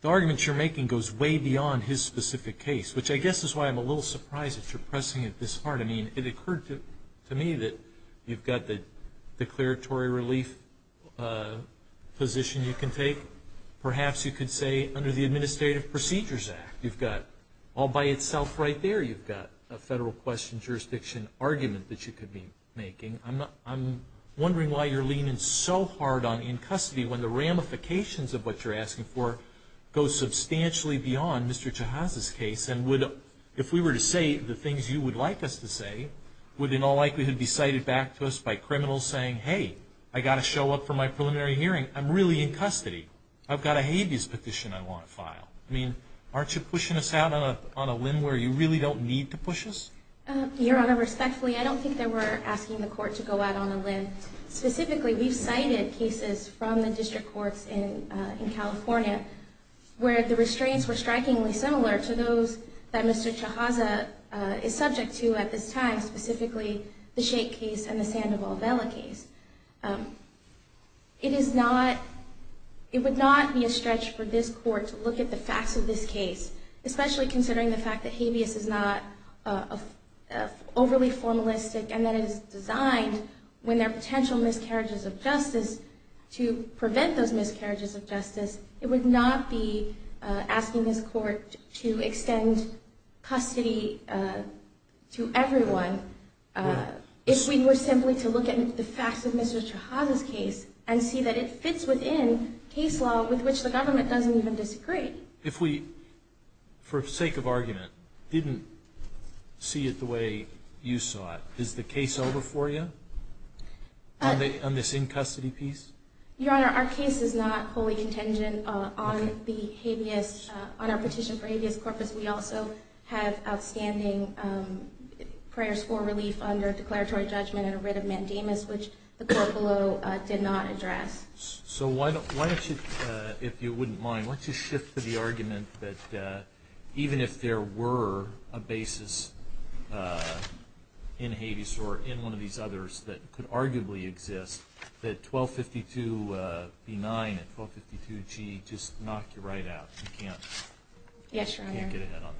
The argument you're making goes way beyond his specific case, which I guess is why I'm a little surprised that you're pressing it this hard. I mean, it occurred to me that you've got the declaratory relief position you can take. Perhaps you could say under the Administrative Procedures Act, you've got all by itself right there. You've got a federal question jurisdiction argument that you could be making. I'm wondering why you're leaning so hard on in-custody when the ramifications of what you're asking for go substantially beyond Mr. Shahaza's case, and if we were to say the things you would like us to say, would in all likelihood be cited back to us by criminals saying, hey, I've got to show up for my preliminary hearing. I'm really in custody. I've got a habeas petition I want to file. I mean, aren't you pushing us out on a limb where you really don't need to push us? Your Honor, respectfully, I don't think that we're asking the court to go out on a limb. Specifically, we've cited cases from the district courts in California where the restraints were strikingly similar to those that Mr. Shahaza is subject to at this time, specifically the Sheikh case and the Sandoval-Bella case. It would not be a stretch for this court to look at the facts of this case, especially considering the fact that habeas is not overly formalistic and that it is designed when there are potential miscarriages of justice to prevent those miscarriages of justice. It would not be asking this court to extend custody to everyone if we were simply to look at the facts of Mr. Shahaza's case and see that it fits within case law with which the government doesn't even disagree. If we, for sake of argument, didn't see it the way you saw it, is the case over for you on this in-custody piece? Your Honor, our case is not fully contingent on our petition for habeas corpus. We also have outstanding prior score relief under declaratory judgment and a writ of mandamus which the court below did not address. So why don't you, if you wouldn't mind, why don't you shift to the argument that even if there were a basis in habeas or in one of these others that could arguably exist, that 1252B9 and 1252G just knock you right out. Yes, Your Honor.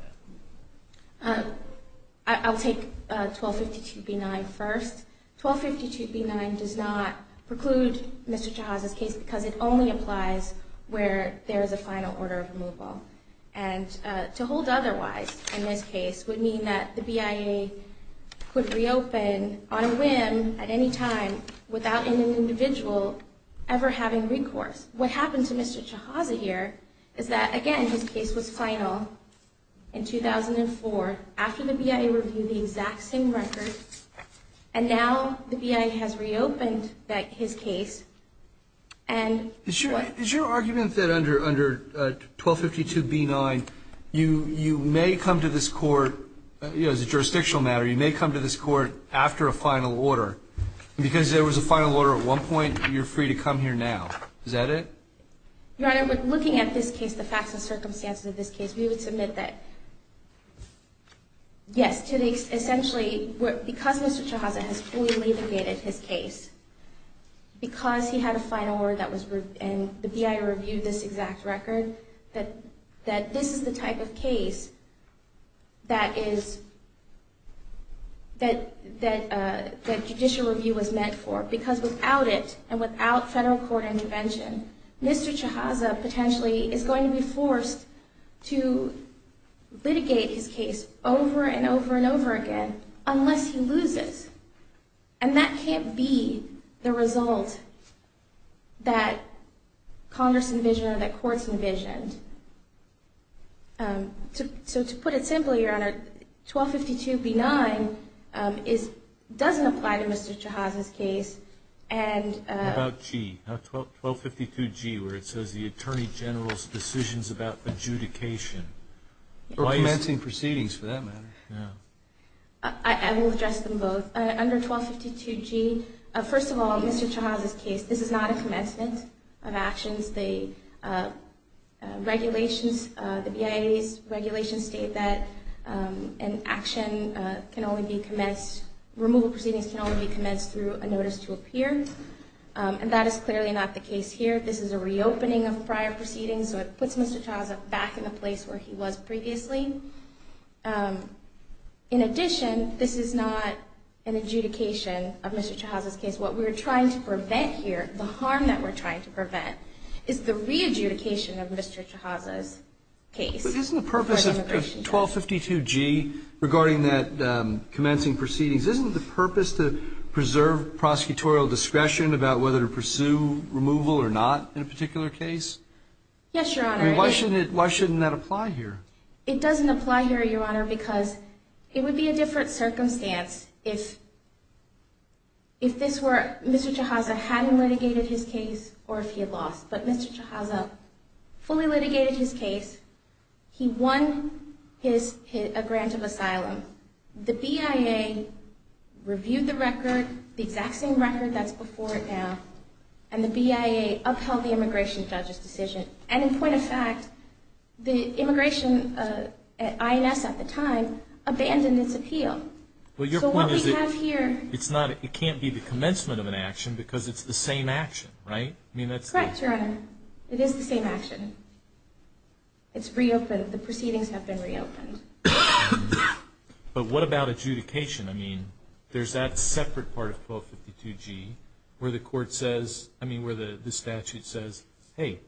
I'll take 1252B9 first. 1252B9 does not preclude Mr. Shahaza's case because it only applies where there is a final order of removal. And to hold otherwise in this case would mean that the BIA could reopen on a whim at any time without any individual ever having recourse. What happened to Mr. Shahaza here is that, again, his case was final in 2004 after the BIA reviewed the exact same records, and now the BIA has reopened his case. Is your argument that under 1252B9 you may come to this court, as a jurisdictional matter, you may come to this court after a final order and because there was a final order at one point, you're free to come here now? Is that it? Your Honor, looking at this case, the facts and circumstances of this case, we would submit that yes, essentially, because Mr. Shahaza has fully litigated his case, because he had a final order and the BIA reviewed this exact record, that this is the type of case that judicial review was meant for, because without it and without federal court intervention, Mr. Shahaza potentially is going to be forced to litigate his case over and over and over again unless he loses. And that can't be the result that Congress envisioned or that court envisioned. So to put it simply, Your Honor, 1252B9 doesn't apply to Mr. Shahaza's case. What about 1252G, where it says the Attorney General's decisions about adjudication? Or commencing proceedings, for that matter. I will address them both. Under 1252G, first of all, Mr. Shahaza's case, this is not a commencement of actions. The regulations, the BIA's regulations state that an action can only be commenced, removal proceedings can only be commenced through a notice to appear, and that is clearly not the case here. This is a reopening of prior proceedings, so it puts Mr. Shahaza back in the place where he was previously. In addition, this is not an adjudication of Mr. Shahaza's case. What we're trying to prevent here, the harm that we're trying to prevent, is the re-adjudication of Mr. Shahaza's case. But isn't the purpose of 1252G regarding that commencing proceedings, isn't the purpose to preserve prosecutorial discretion about whether to pursue removal or not in a particular case? Yes, Your Honor. Why shouldn't that apply here? It doesn't apply here, Your Honor, because it would be a different circumstance if Mr. Shahaza hadn't litigated his case or if he had lost. But Mr. Shahaza fully litigated his case. He won a grant of asylum. The BIA reviewed the record, the exact same record as before it now, and the BIA upheld the immigration statute decision. And in point of fact, the immigration, INS at the time, abandoned this appeal. But what we have here... It can't be the commencement of an action because it's the same action, right? Correct, Your Honor. It is the same action. It's reopened. The proceedings have been reopened. But what about adjudication? I mean, there's that separate part of 1252G where the statute says, hey,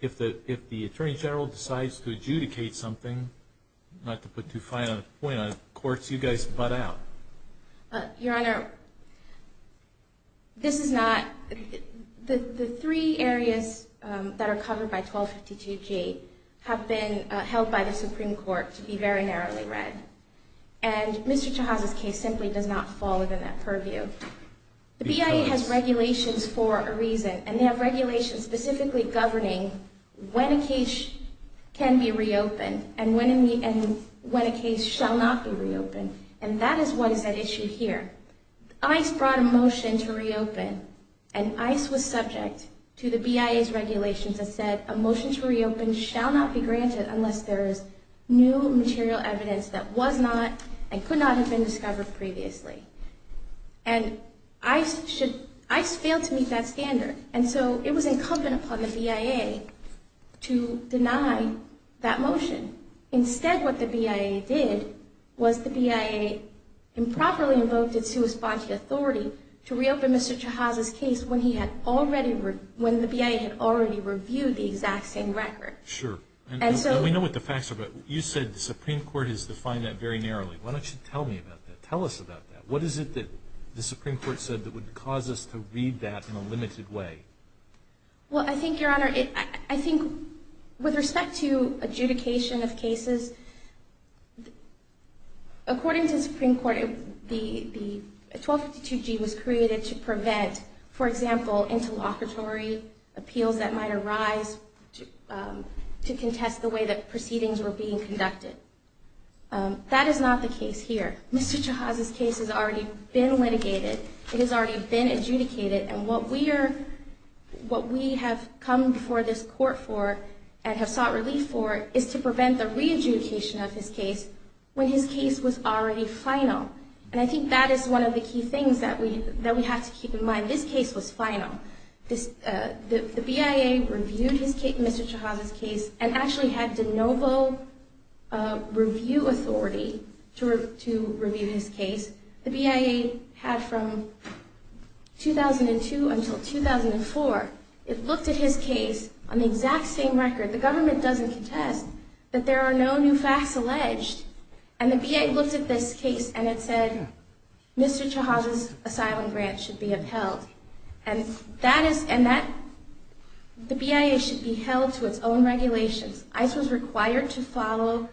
if the Attorney General decides to adjudicate something, not to put too fine a point on it, of course you guys butt out. Your Honor, this is not... The three areas that are covered by 1252G have been held by the Supreme Court to be very narrowly read. And Mr. Chahab's case simply does not fall within that purview. The BIA has regulations for a reason, and they have regulations specifically governing when a case can be reopened and when a case shall not be reopened. And that is one of the issues here. ICE brought a motion to reopen, and ICE was subject to the BIA's regulations that said a motion to reopen shall not be granted unless there is new material evidence that was not and could not have been discovered previously. And ICE failed to meet that standard, and so it was incumbent upon the BIA to deny that motion. Instead, what the BIA did was the BIA improperly invoked a two-response authority to reopen Mr. Chahab's case when the BIA had already reviewed the exact same record. Sure. And we know what the facts are, but you said the Supreme Court has defined that very narrowly. Why don't you tell me about that? Tell us about that. What is it that the Supreme Court said that would cause us to read that in a limited way? Well, I think, Your Honor, I think with respect to adjudication of cases, according to the Supreme Court, the 1252G was created to prevent, for example, interlocutory appeals that might arise to contest the way that proceedings were being conducted. That is not the case here. Mr. Chahab's case has already been litigated, it has already been adjudicated, and what we have come before this Court for and have sought relief for is to prevent the re-adjudication of his case when his case was already final. And I think that is one of the key things that we have to keep in mind. This case was final. The BIA reviewed Mr. Chahab's case and actually had the noble review authority to review his case. The BIA had from 2002 until 2004, it looked at his case on the exact same record. The government doesn't contest that there are no new facts alleged. And the BIA looked at this case and it said Mr. Chahab's asylum grant should be upheld. And the BIA should be held to its own regulations. ICE was required to follow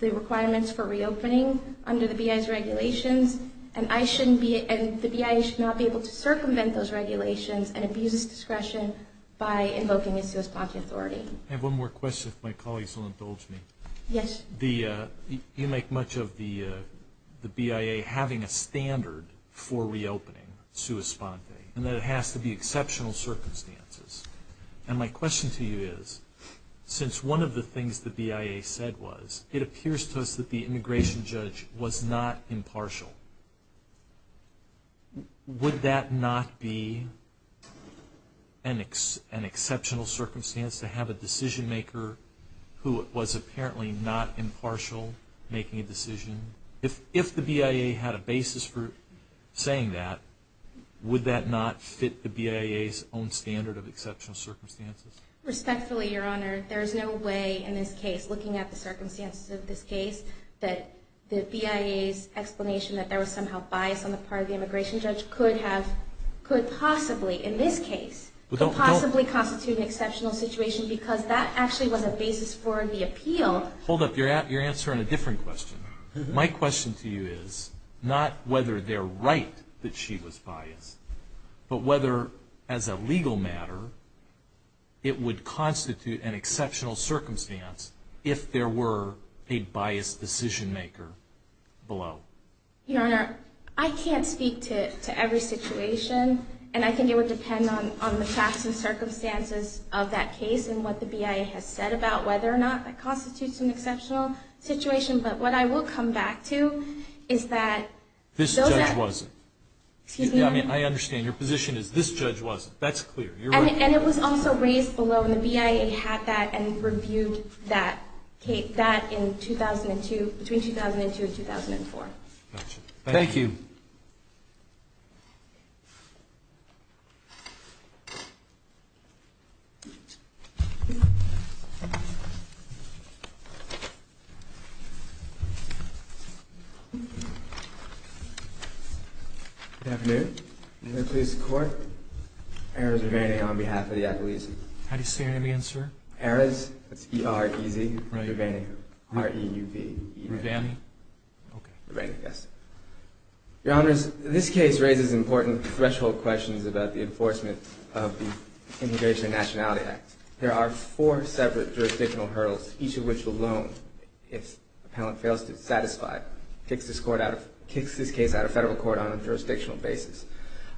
the requirements for reopening under the BIA's regulations, and the BIA should not be able to circumvent those regulations and abuse discretion by invoking its response authority. I have one more question if my colleagues will indulge me. Yes. You make much of the BIA having a standard for reopening, and that it has to be exceptional circumstances. And my question to you is, since one of the things the BIA said was, it appears to us that the immigration judge was not impartial. Would that not be an exceptional circumstance to have a decision maker who was apparently not impartial making a decision? If the BIA had a basis for saying that, would that not fit the BIA's own standard of exceptional circumstances? Respectfully, Your Honor, there is no way in this case, looking at the circumstances of this case, that the BIA's explanation that there was somehow bias on the part of the immigration judge could possibly, in this case, possibly constitute an exceptional situation because that's actually one of the basis for the appeal. Hold up, you're answering a different question. My question to you is not whether they're right that she was biased, but whether, as a legal matter, it would constitute an exceptional circumstance if there were a biased decision maker below. Your Honor, I can't speak to every situation, and I think it would depend on the facts and circumstances of that case and what the BIA has said about whether or not it constitutes an exceptional situation. But what I will come back to is that... This judge wasn't. I understand. Your position is this judge wasn't. That's clear. And it was also raised below. The BIA had that and reviewed that case back in 2002, between 2002 and 2004. Thank you. Good afternoon. I'm going to please the Court. Erez Urvani on behalf of the athletes. How do you say your name, sir? Erez. E-R-E-Z. Erez Urvani. R-E-U-V-I. E-R-U-V-A-N-I. Urvani, yes. Your Honors, this case raises important threshold questions about the enforcement of the Immigration and Nationality Act. There are four separate jurisdictional hurdles, each of which alone, if a penalty fails to be satisfied, kicks this case out of federal court on a jurisdictional basis.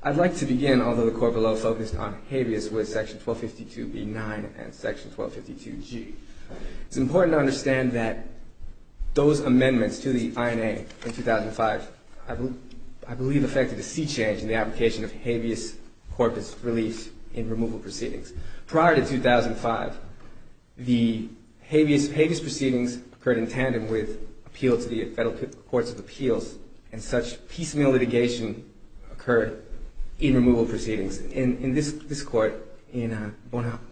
I'd like to begin, although the Court below focused on behaviors with Section 1252b-9 and Section 1252g. It's important to understand that those amendments to the INA in 2005, I believe, affected a sea change in the application of habeas corpus release in removal proceedings. Prior to 2005, the habeas proceedings occurred in tandem with appeals to the Federal Courts of Appeals, and such piecemeal litigation occurred in removal proceedings. In this court, in Bonamentra,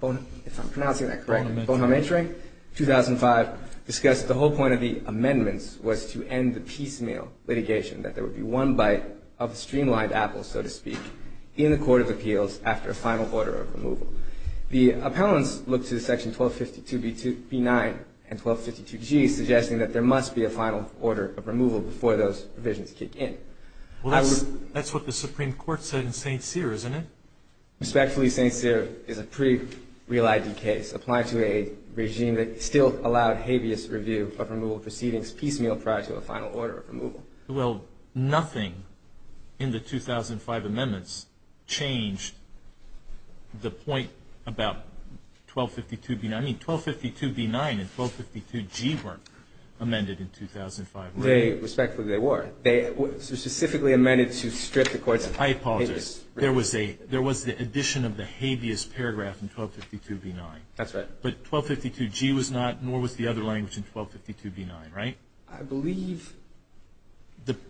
2005, discussed that the whole point of the amendments was to end the piecemeal litigation, that there would be one bite of a streamlined apple, so to speak, in the Court of Appeals after a final order of removal. The appellants looked to Section 1252b-9 and 1252g, suggesting that there must be a final order of removal before those provisions kick in. Well, that's what the Supreme Court said in St. Cyr, isn't it? Respectfully, St. Cyr is a pretty reliable case. Applying to a regime that still allowed habeas review for removal proceedings piecemeal prior to a final order of removal. Well, nothing in the 2005 amendments changed the point about 1252b-9. I mean, 1252b-9 and 1252g weren't amended in 2005, were they? Respectfully, they were. They were specifically amended to strip the Court of Appeals. I apologize. There was the addition of the habeas paragraph in 1252b-9. That's right. But 1252g was not, nor was the other language in 1252b-9, right? I believe.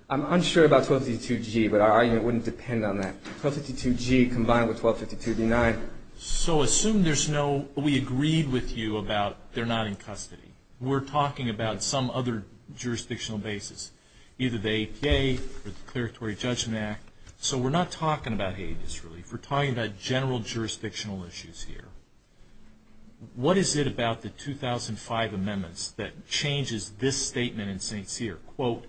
I'm unsure about 1252g, but our argument wouldn't depend on that. 1252g combined with 1252b-9. So, assume there's no, we agreed with you about they're not in custody. We're talking about some other jurisdictional basis, either the 8th day or the Declaratory Judgment Act. So, we're not talking about habeas, really. We're talking about general jurisdictional issues here. What is it about the 2005 amendments that changes this statement in St. Cyr? Quote,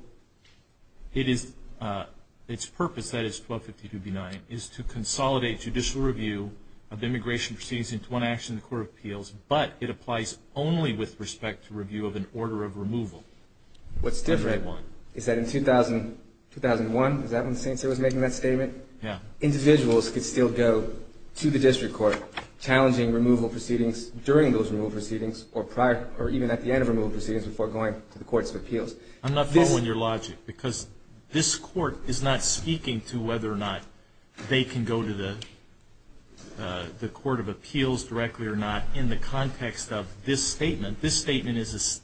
its purpose, that is, 1252b-9, is to consolidate judicial review of immigration proceedings into one action in the Court of Appeals, but it applies only with respect to review of an order of removal. What's different is that in 2001, is that when St. Cyr was making that statement? Yeah. Individuals could still go to the district court, challenging removal proceedings during those removal proceedings or even at the end of removal proceedings before going to the Courts of Appeals. I'm not following your logic because this court is not speaking to whether or not they can go to the Court of Appeals directly or not in the context of this statement. This statement is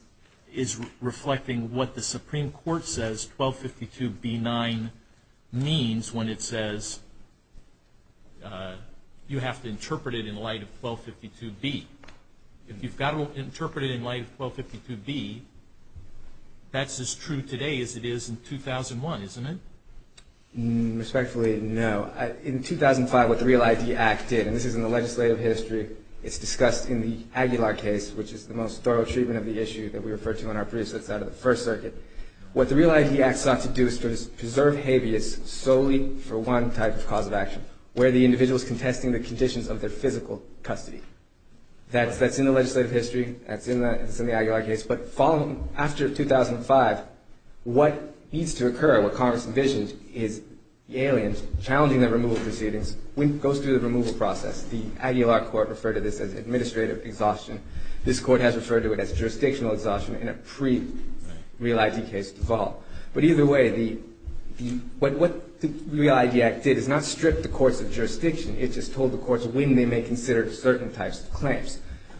reflecting what the Supreme Court says 1252b-9 means when it says you have to interpret it in light of 1252b. If you've got to interpret it in light of 1252b, that's as true today as it is in 2001, isn't it? Respectfully, no. In 2005, what the REAL-ID Act did, and this is in the legislative history, it's discussed in the Aguilar case, which is the most thorough treatment of the issue that we refer to on our briefs outside of the First Circuit. What the REAL-ID Act sought to do is to preserve habeas solely for one type of cause of action, where the individual is contesting the conditions of their physical custody. That's in the legislative history, that's in the Aguilar case, but after 2005, what needs to occur, what Congress envisions, is the aliens challenging the removal proceedings. When it goes through the removal process, the Aguilar court referred to this as administrative exhaustion. This court has referred to it as jurisdictional exhaustion in a pre-REAL-ID case as well. But either way, what the REAL-ID Act did is not strip the courts of jurisdiction.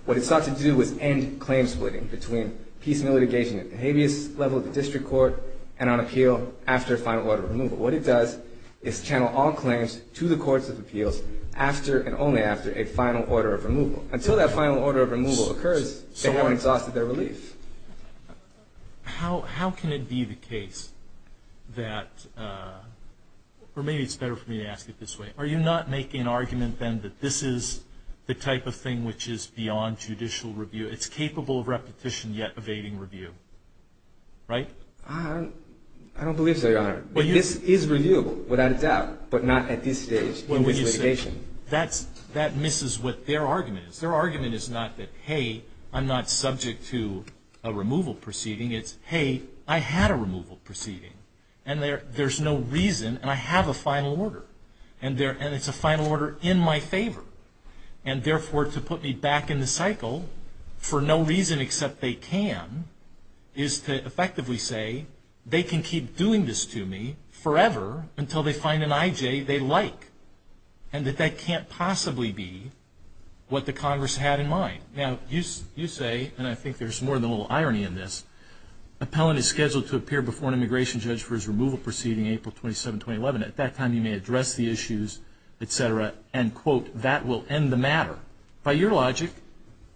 What it sought to do was end claim splitting between piecemeal litigation at the habeas level of the district court and on appeal after a final order of removal. What it does is channel all claims to the courts of appeals after and only after a final order of removal. Until that final order of removal occurs, they won't exhaust their reliefs. How can it be the case that, or maybe it's better for me to ask it this way, are you not making an argument then that this is the type of thing which is beyond judicial review? It's capable of repetition yet evading review, right? I don't believe so, Your Honor. This is reviewable, without a doubt, but not at this stage in litigation. That misses what their argument is. Their argument is not that, hey, I'm not subject to a removal proceeding. It's, hey, I had a removal proceeding, and there's no reason, and I have a final order. And it's a final order in my favor. And, therefore, to put me back in the cycle, for no reason except they can, is to effectively say they can keep doing this to me forever until they find an IJ they like and that that can't possibly be what the Congress had in mind. Now, you say, and I think there's more than a little irony in this, appellant is scheduled to appear before an immigration judge for his removal proceeding April 27, 2011. At that time, he may address the issues, et cetera, and, quote, that will end the matter. By your logic,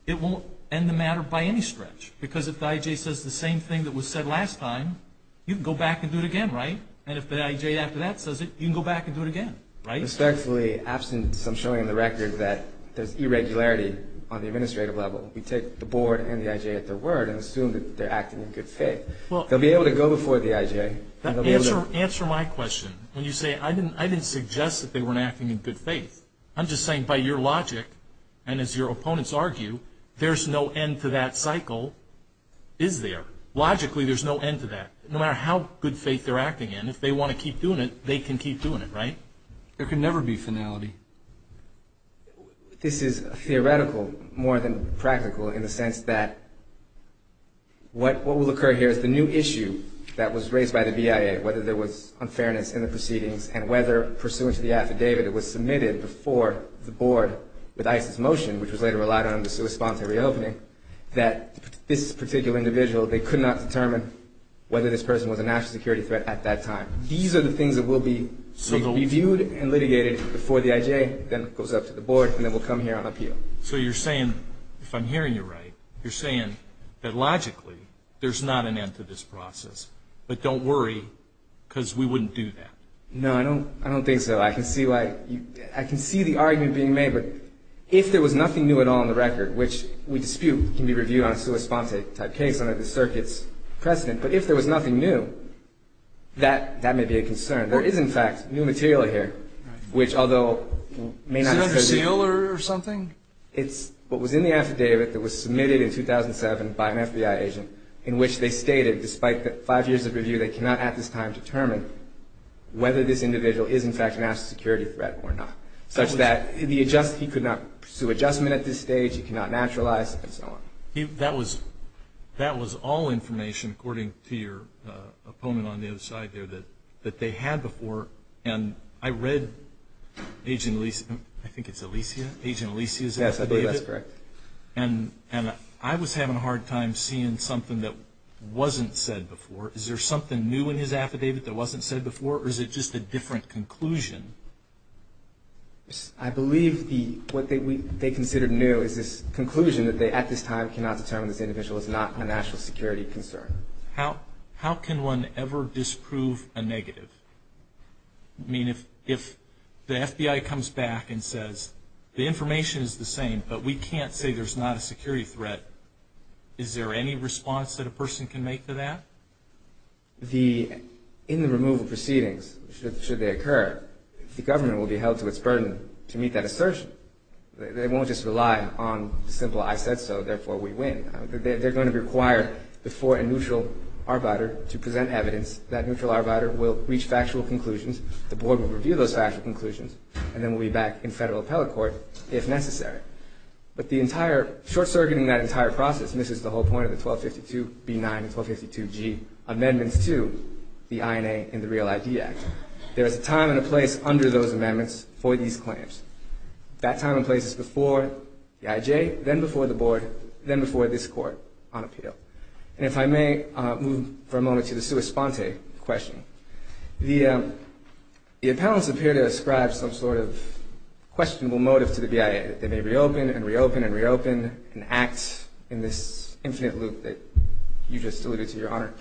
it won't end the matter by any stretch, because if the IJ says the same thing that was said last time, you can go back and do it again, right? And if the IJ after that says it, you can go back and do it again, right? Respectfully, absent some showing on the record that there's irregularity on the administrative level, we take the board and the IJ at their word and assume that they're acting in good faith. They'll be able to go before the IJ. Answer my question when you say I didn't suggest that they weren't acting in good faith. I'm just saying by your logic and as your opponents argue, there's no end to that cycle, is there? Logically, there's no end to that. No matter how good faith they're acting in, if they want to keep doing it, they can keep doing it, right? There can never be finality. This is theoretical more than practical in the sense that what will occur here is the new issue that was raised by the DIA, whether there was unfairness in the proceedings and whether pursuant to the affidavit that was submitted before the board with ICE's motion, which was later relied on to respond to the reopening, that this particular individual, they could not determine whether this person was a national security threat at that time. These are the things that will be reviewed and litigated before the IJ then goes up to the board and then will come here and appeal. So you're saying, if I'm hearing you right, you're saying that logically there's not an end to this process, but don't worry because we wouldn't do that. No, I don't think so. I can see the argument being made, but if there was nothing new at all in the record, which we dispute can be reviewed on a suicide type case under the circuit's precedent, but if there was nothing new, that may be a concern. There is, in fact, new material here, which although may not be... Is it a seal or something? It's what was in the affidavit that was submitted in 2007 by an FBI agent in which they stated, despite the five years of review, they cannot at this time determine whether this individual is, in fact, a national security threat or not, such that he could not pursue adjustment at this stage, he cannot naturalize, and so on. That was all information, according to your opponent on the other side there, that they had before, and I read Agent Alicia's affidavit, and I was having a hard time seeing something that wasn't said before. Is there something new in his affidavit that wasn't said before, or is it just a different conclusion? I believe what they considered new is this conclusion that they at this time cannot determine this individual is not a national security concern. How can one ever disprove a negative? I mean, if the FBI comes back and says, the information is the same, but we can't say there's not a security threat, is there any response that a person can make to that? In the removal proceedings, should they occur, the government will be held to its burden to meet that assertion. They won't just rely on the simple, I said so, therefore we win. They're going to require the fore and neutral arbiter to present evidence that neutral arbiter will reach factual conclusions, the board will review those factual conclusions, and then we'll be back in federal appellate court, if necessary. But the entire, short-circuiting that entire process, and this is the whole point of the 1252B9 and 1252G amendments to the INA and the Real ID Act, there's a time and a place under those amendments for these claims. That time and place is before the IJ, then before the board, then before this court on appeal. And if I may move for a moment to the sua sponte question. The appellants appear to ascribe some sort of questionable motive to the BIA, that they may reopen and reopen and reopen and act in this infinite loop that you just alluded to, Your Honor.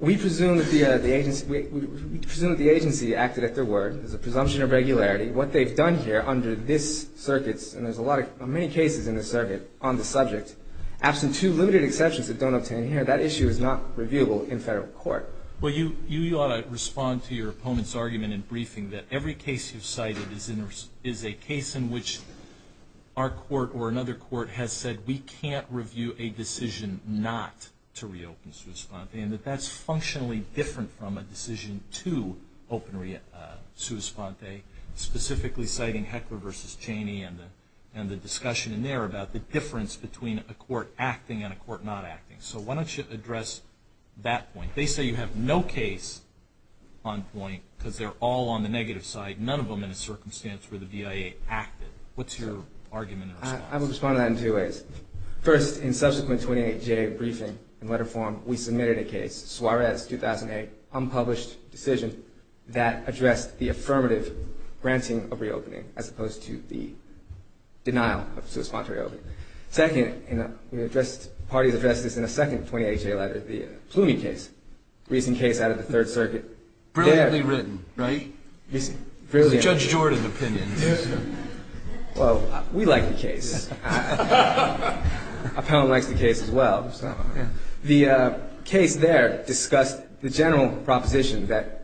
We presume that the agency acted at their word, there's a presumption of regularity. What they've done here under this circuit, and there's many cases in this circuit on the subject, absent two limited exceptions that don't obtain here, that issue is not reviewable in federal court. Well, you ought to respond to your opponent's argument in briefing that every case you've cited is a case in which our court or another court has said we can't review a decision not to reopen sua sponte, and that that's functionally different from a decision to openly sua sponte, specifically citing Heckler v. Cheney and the discussion in there about the difference between a court acting and a court not acting. So why don't you address that point? They say you have no case on point because they're all on the negative side, none of them in a circumstance where the BIA acted. What's your argument? I will respond to that in two ways. First, in subsequent 28-day briefing in letter form, we submitted a case, Suarez 2008, unpublished decision that addressed the affirmative granting of reopening as opposed to the denial of sua sponte reopening. Second, we addressed the party that addressed this in a second 28-day letter, the Plumy case, briefing case out of the Third Circuit. Brilliantly written, right? Brilliant. Judge Jordan's opinion. Well, we like the case. I kind of like the case as well. The case there discussed the general proposition that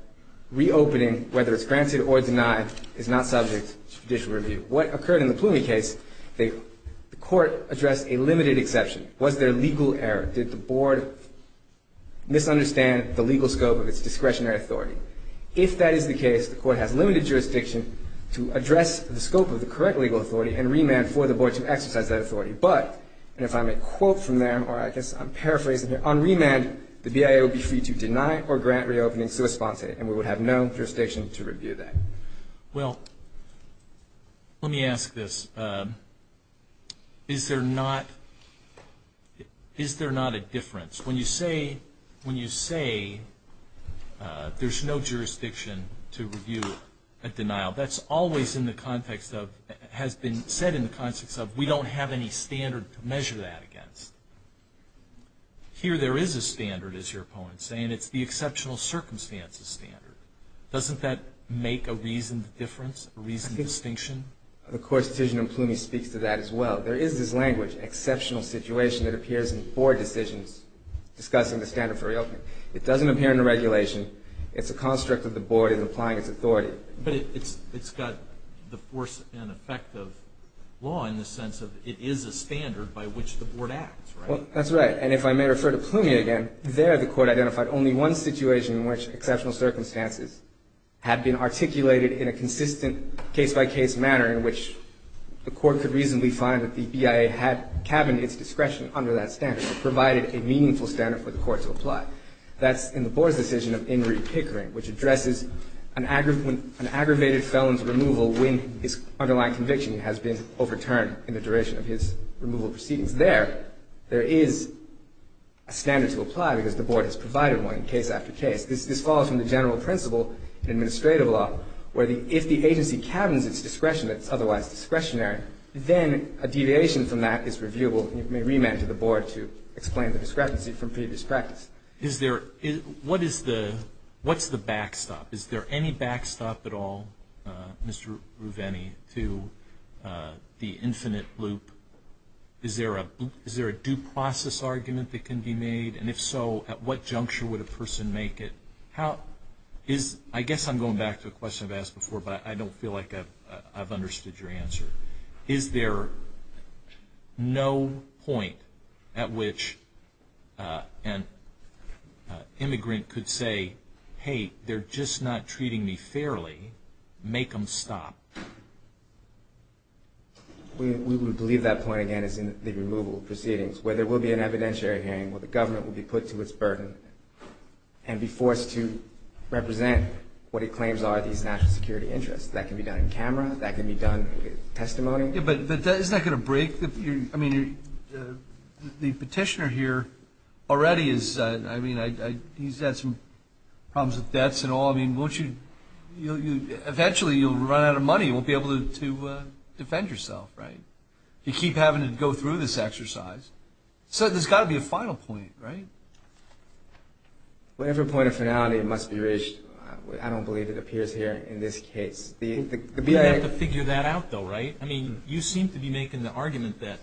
reopening, whether it's granted or denied, is not subject to judicial review. What occurred in the Plumy case, the court addressed a limited exception. Was there a legal error? Did the board misunderstand the legal scope of its discretionary authority? If that is the case, the court has limited jurisdiction to address the scope of the correct legal authority and remand for the board to exercise that authority. But, and if I may quote from there, or I guess I'm paraphrasing here, on remand, the BIA would be free to deny or grant reopening sua sponte, and we would have no jurisdiction to review that. Well, let me ask this. Is there not a difference? When you say there's no jurisdiction to review a denial, that's always in the context of, has been said in the context of we don't have any standard to measure that against. Here there is a standard, as your opponent is saying. It's the exceptional circumstances standard. Doesn't that make a reasoned difference, a reasoned distinction? Of course, Tizian and Plumy speak to that as well. There is this language, exceptional situation, that appears in four decisions discussing the standard for reopening. It doesn't appear in the regulation. It's a construct of the board in applying its authority. But it's got the force and effect of law in the sense of it is a standard by which the board acts, right? Well, that's right. And if I may refer to Plumy again, there the court identified only one situation in which exceptional circumstances had been articulated in a consistent case-by-case manner in which the court could reasonably find that the BIA had cabined its discretion under that standard and provided a meaningful standard for the court to apply. That's in the board's decision of Inree Pickering, which addresses an aggravated felon's removal when his underlying conviction has been overturned in the duration of his removal proceedings. Because there, there is a standard to apply because the board has provided one case after case. This falls in the general principle in administrative law, where if the agency cabins its discretion that's otherwise discretionary, then a deviation from that is reviewable. You may remit to the board to explain the discrepancy from previous practice. What's the backstop? Is there any backstop at all, Mr. Ruveni, to the infinite loop? Is there a due process argument that can be made? And if so, at what juncture would a person make it? I guess I'm going back to a question I've asked before, but I don't feel like I've understood your answer. Is there no point at which an immigrant could say, hey, they're just not treating me fairly, make them stop? We believe that point, again, is in the removal proceedings, where there will be an evidentiary hearing where the government will be put to its burden and be forced to represent what it claims are these national security interests. That can be done in camera. That can be done in testimony. Yeah, but isn't that going to break the, I mean, the petitioner here already is, I mean, he's got some problems with bets and all. I mean, eventually you'll run out of money. You won't be able to defend yourself, right? You keep having to go through this exercise. So there's got to be a final point, right? Well, every point of finality must be reached. I don't believe it appears here in this case. You have to figure that out, though, right? I mean, you seem to be making the argument that,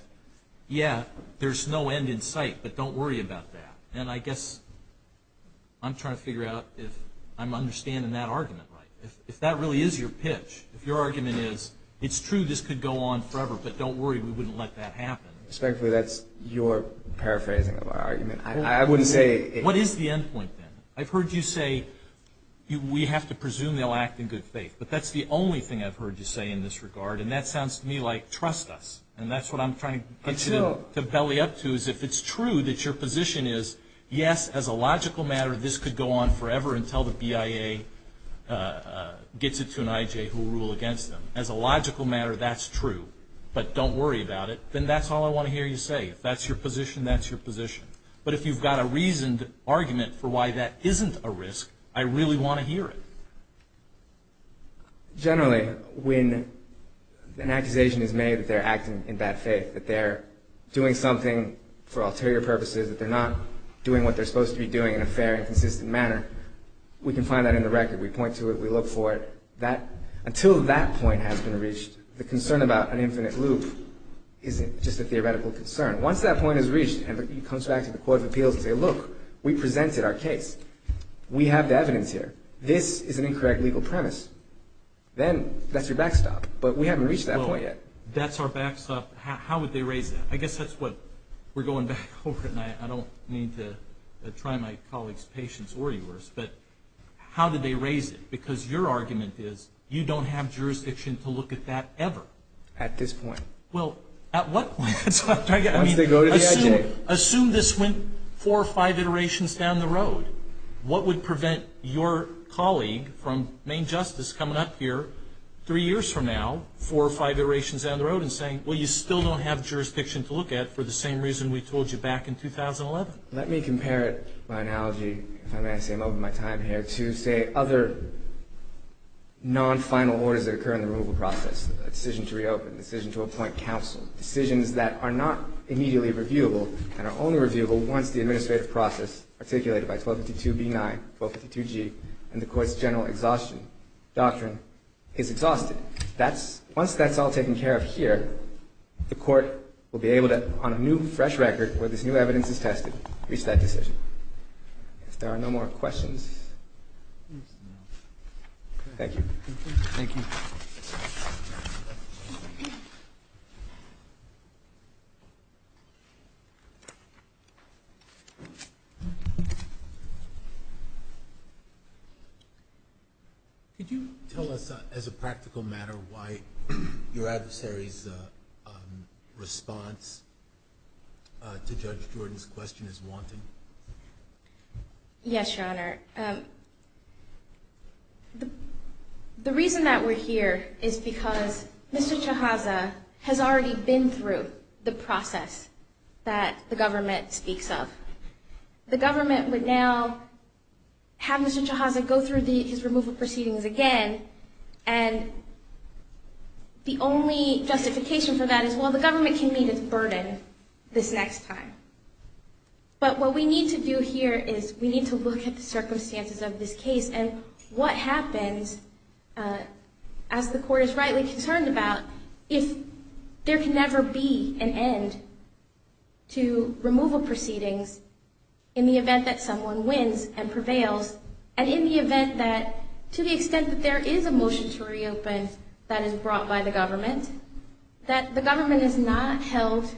yeah, there's no end in sight, but don't worry about that. And I guess I'm trying to figure out if I'm understanding that argument right. If that really is your pitch, if your argument is, it's true, this could go on forever, but don't worry, we wouldn't let that happen. Certainly, that's your paraphrasing of our argument. I wouldn't say it's... What is the end point, then? I've heard you say we have to presume they'll act in good faith, but that's the only thing I've heard you say in this regard, and that sounds to me like trust us, and that's what I'm trying to belly up to is if it's true that your position is, yes, as a logical matter, this could go on forever until the BIA gets it to an IJ who will rule against them. As a logical matter, that's true, but don't worry about it. Then that's all I want to hear you say. If that's your position, that's your position. But if you've got a reasoned argument for why that isn't a risk, I really want to hear it. Generally, when an accusation is made that they're acting in bad faith, that they're doing something for ulterior purposes, that they're not doing what they're supposed to be doing in a fair and consistent manner, we can find that in the record. We point to it. We look for it. Until that point has been reached, the concern about an infinite loop isn't just a theoretical concern. Once that point is reached and he comes back to the Court of Appeals and says, Look, we presented our case. We have the evidence here. This is an incorrect legal premise. Then that's your backstop, but we haven't reached that point yet. That's our backstop. How would they raise it? I guess that's what we're going back over, and I don't mean to try my colleague's patience or yours, but how did they raise it? Because your argument is you don't have jurisdiction to look at that ever. At this point. Well, at what point? Assume this went four or five iterations down the road. What would prevent your colleague from, named justice, coming up here three years from now, four or five iterations down the road and saying, Well, you still don't have jurisdiction to look at for the same reason we told you back in 2011? Let me compare it by analogy, because I'm going to say I'm over my time here, to say other non-final orders that occur in the removal process, a decision to reopen, a decision to appoint counsel, decisions that are not immediately reviewable and are only reviewable once the administrative process, articulated by 1252B9, 1252G, and the court's general exhaustion doctrine is exhausted. Once that's all taken care of here, the court will be able to, on a new, fresh record where this new evidence is tested, reach that decision. If there are no more questions. Thank you. Thank you. Could you tell us, as a practical matter, why your adversary's response to Judge Jordan's question is wanton? Yes, Your Honor. The reason that we're here is because Mr. Chiazza has already been through the process that the government speaks of. The government would now have Mr. Chiazza go through these removal proceedings again, and the only justification for that is, well, the government can meet its burden this next time. But what we need to do here is we need to look at the circumstances of this case and what happens, as the court is rightly concerned about, if there can never be an end to removal proceedings in the event that someone wins and prevails, and in the event that, to the extent that there is a motion to reopen that is brought by the government, that the government is not held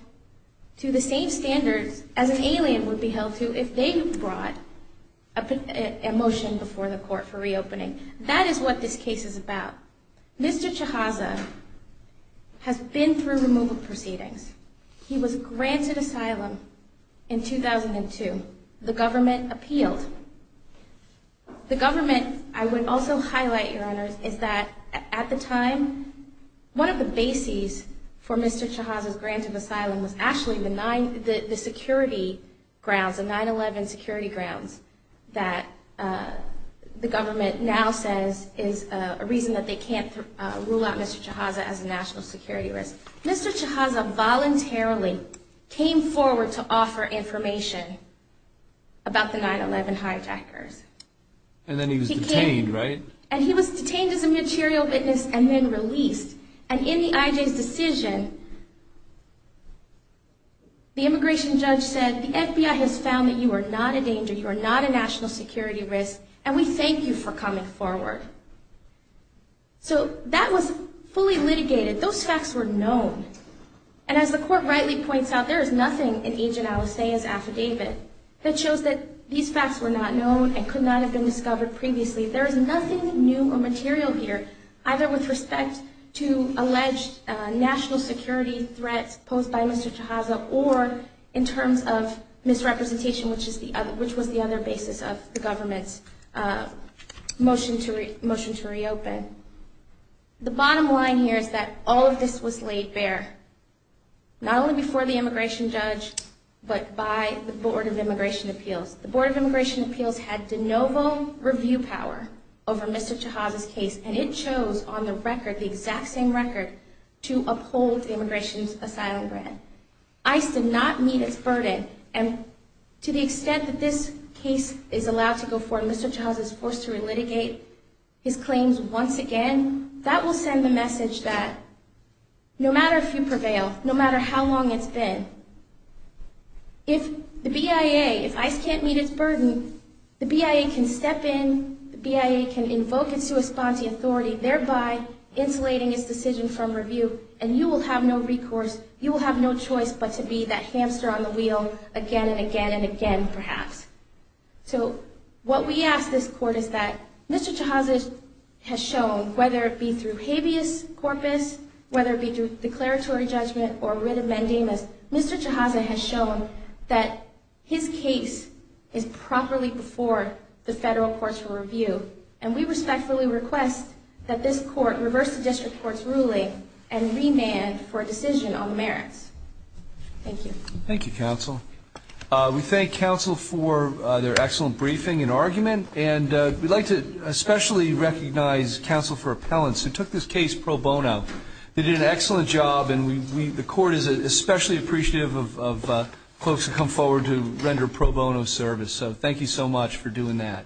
to the same standards as an alien would be held to if they brought a motion before the court for reopening. That is what this case is about. Mr. Chiazza has been through removal proceedings. He was granted asylum in 2002. The government appealed. The government, I would also highlight, Your Honor, is that at the time, one of the bases for Mr. Chiazza's granted asylum was actually the security grounds, the 9-11 security grounds that the government now says is a reason that they can't rule out Mr. Chiazza as a national security risk. Mr. Chiazza voluntarily came forward to offer information about the 9-11 hijackers. And then he was detained, right? And he was detained as a material witness and then released. And in the IJ's decision, the immigration judge said, the FBI has found that you are not a danger, you are not a national security risk, and we thank you for coming forward. So that was fully litigated. Those facts were known. And as the court rightly points out, there is nothing in Agent Alicea's affidavit that shows that these facts were not known and could not have been discovered previously. There is nothing new or material here, either with respect to alleged national security threat posed by Mr. Chiazza or in terms of misrepresentation, which was the other basis of the government's motion to reopen. The bottom line here is that all of this was laid bare, not only before the immigration judge, but by the Board of Immigration Appeals. The Board of Immigration Appeals had de novo review power over Mr. Chiazza's case, and it chose on the record, the exact same record, to uphold the immigration asylum grant. ICE did not meet its burden, and to the extent that this case is allowed to go forward and Mr. Chiazza is forced to relitigate his claims once again, that will send the message that no matter if you prevail, no matter how long it's been, if the BIA, if ICE can't meet its burden, the BIA can step in, the BIA can invoke and co-respond to the authority, thereby insulating its decision from review, and you will have no recourse, you will have no choice but to be that hamster on the wheel again and again and again, perhaps. So what we ask this court is that Mr. Chiazza has shown, whether it be through habeas corpus, whether it be through declaratory judgment or writ amending, that Mr. Chiazza has shown that his case is properly before the federal courts for review, and we respectfully request that this court reverse the district court's ruling and remand for a decision on the merits. Thank you. Thank you, Counsel. We thank Counsel for their excellent briefing and argument, and we'd like to especially recognize Counsel for Appellants, who took this case pro bono. They did an excellent job, and the court is especially appreciative of folks who come forward to render pro bono service, so thank you so much for doing that.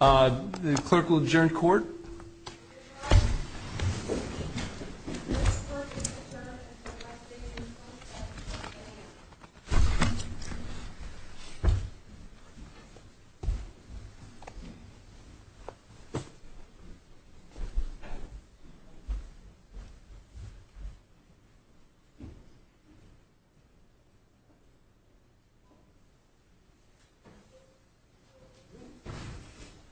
The clerk will adjourn court. Thank you.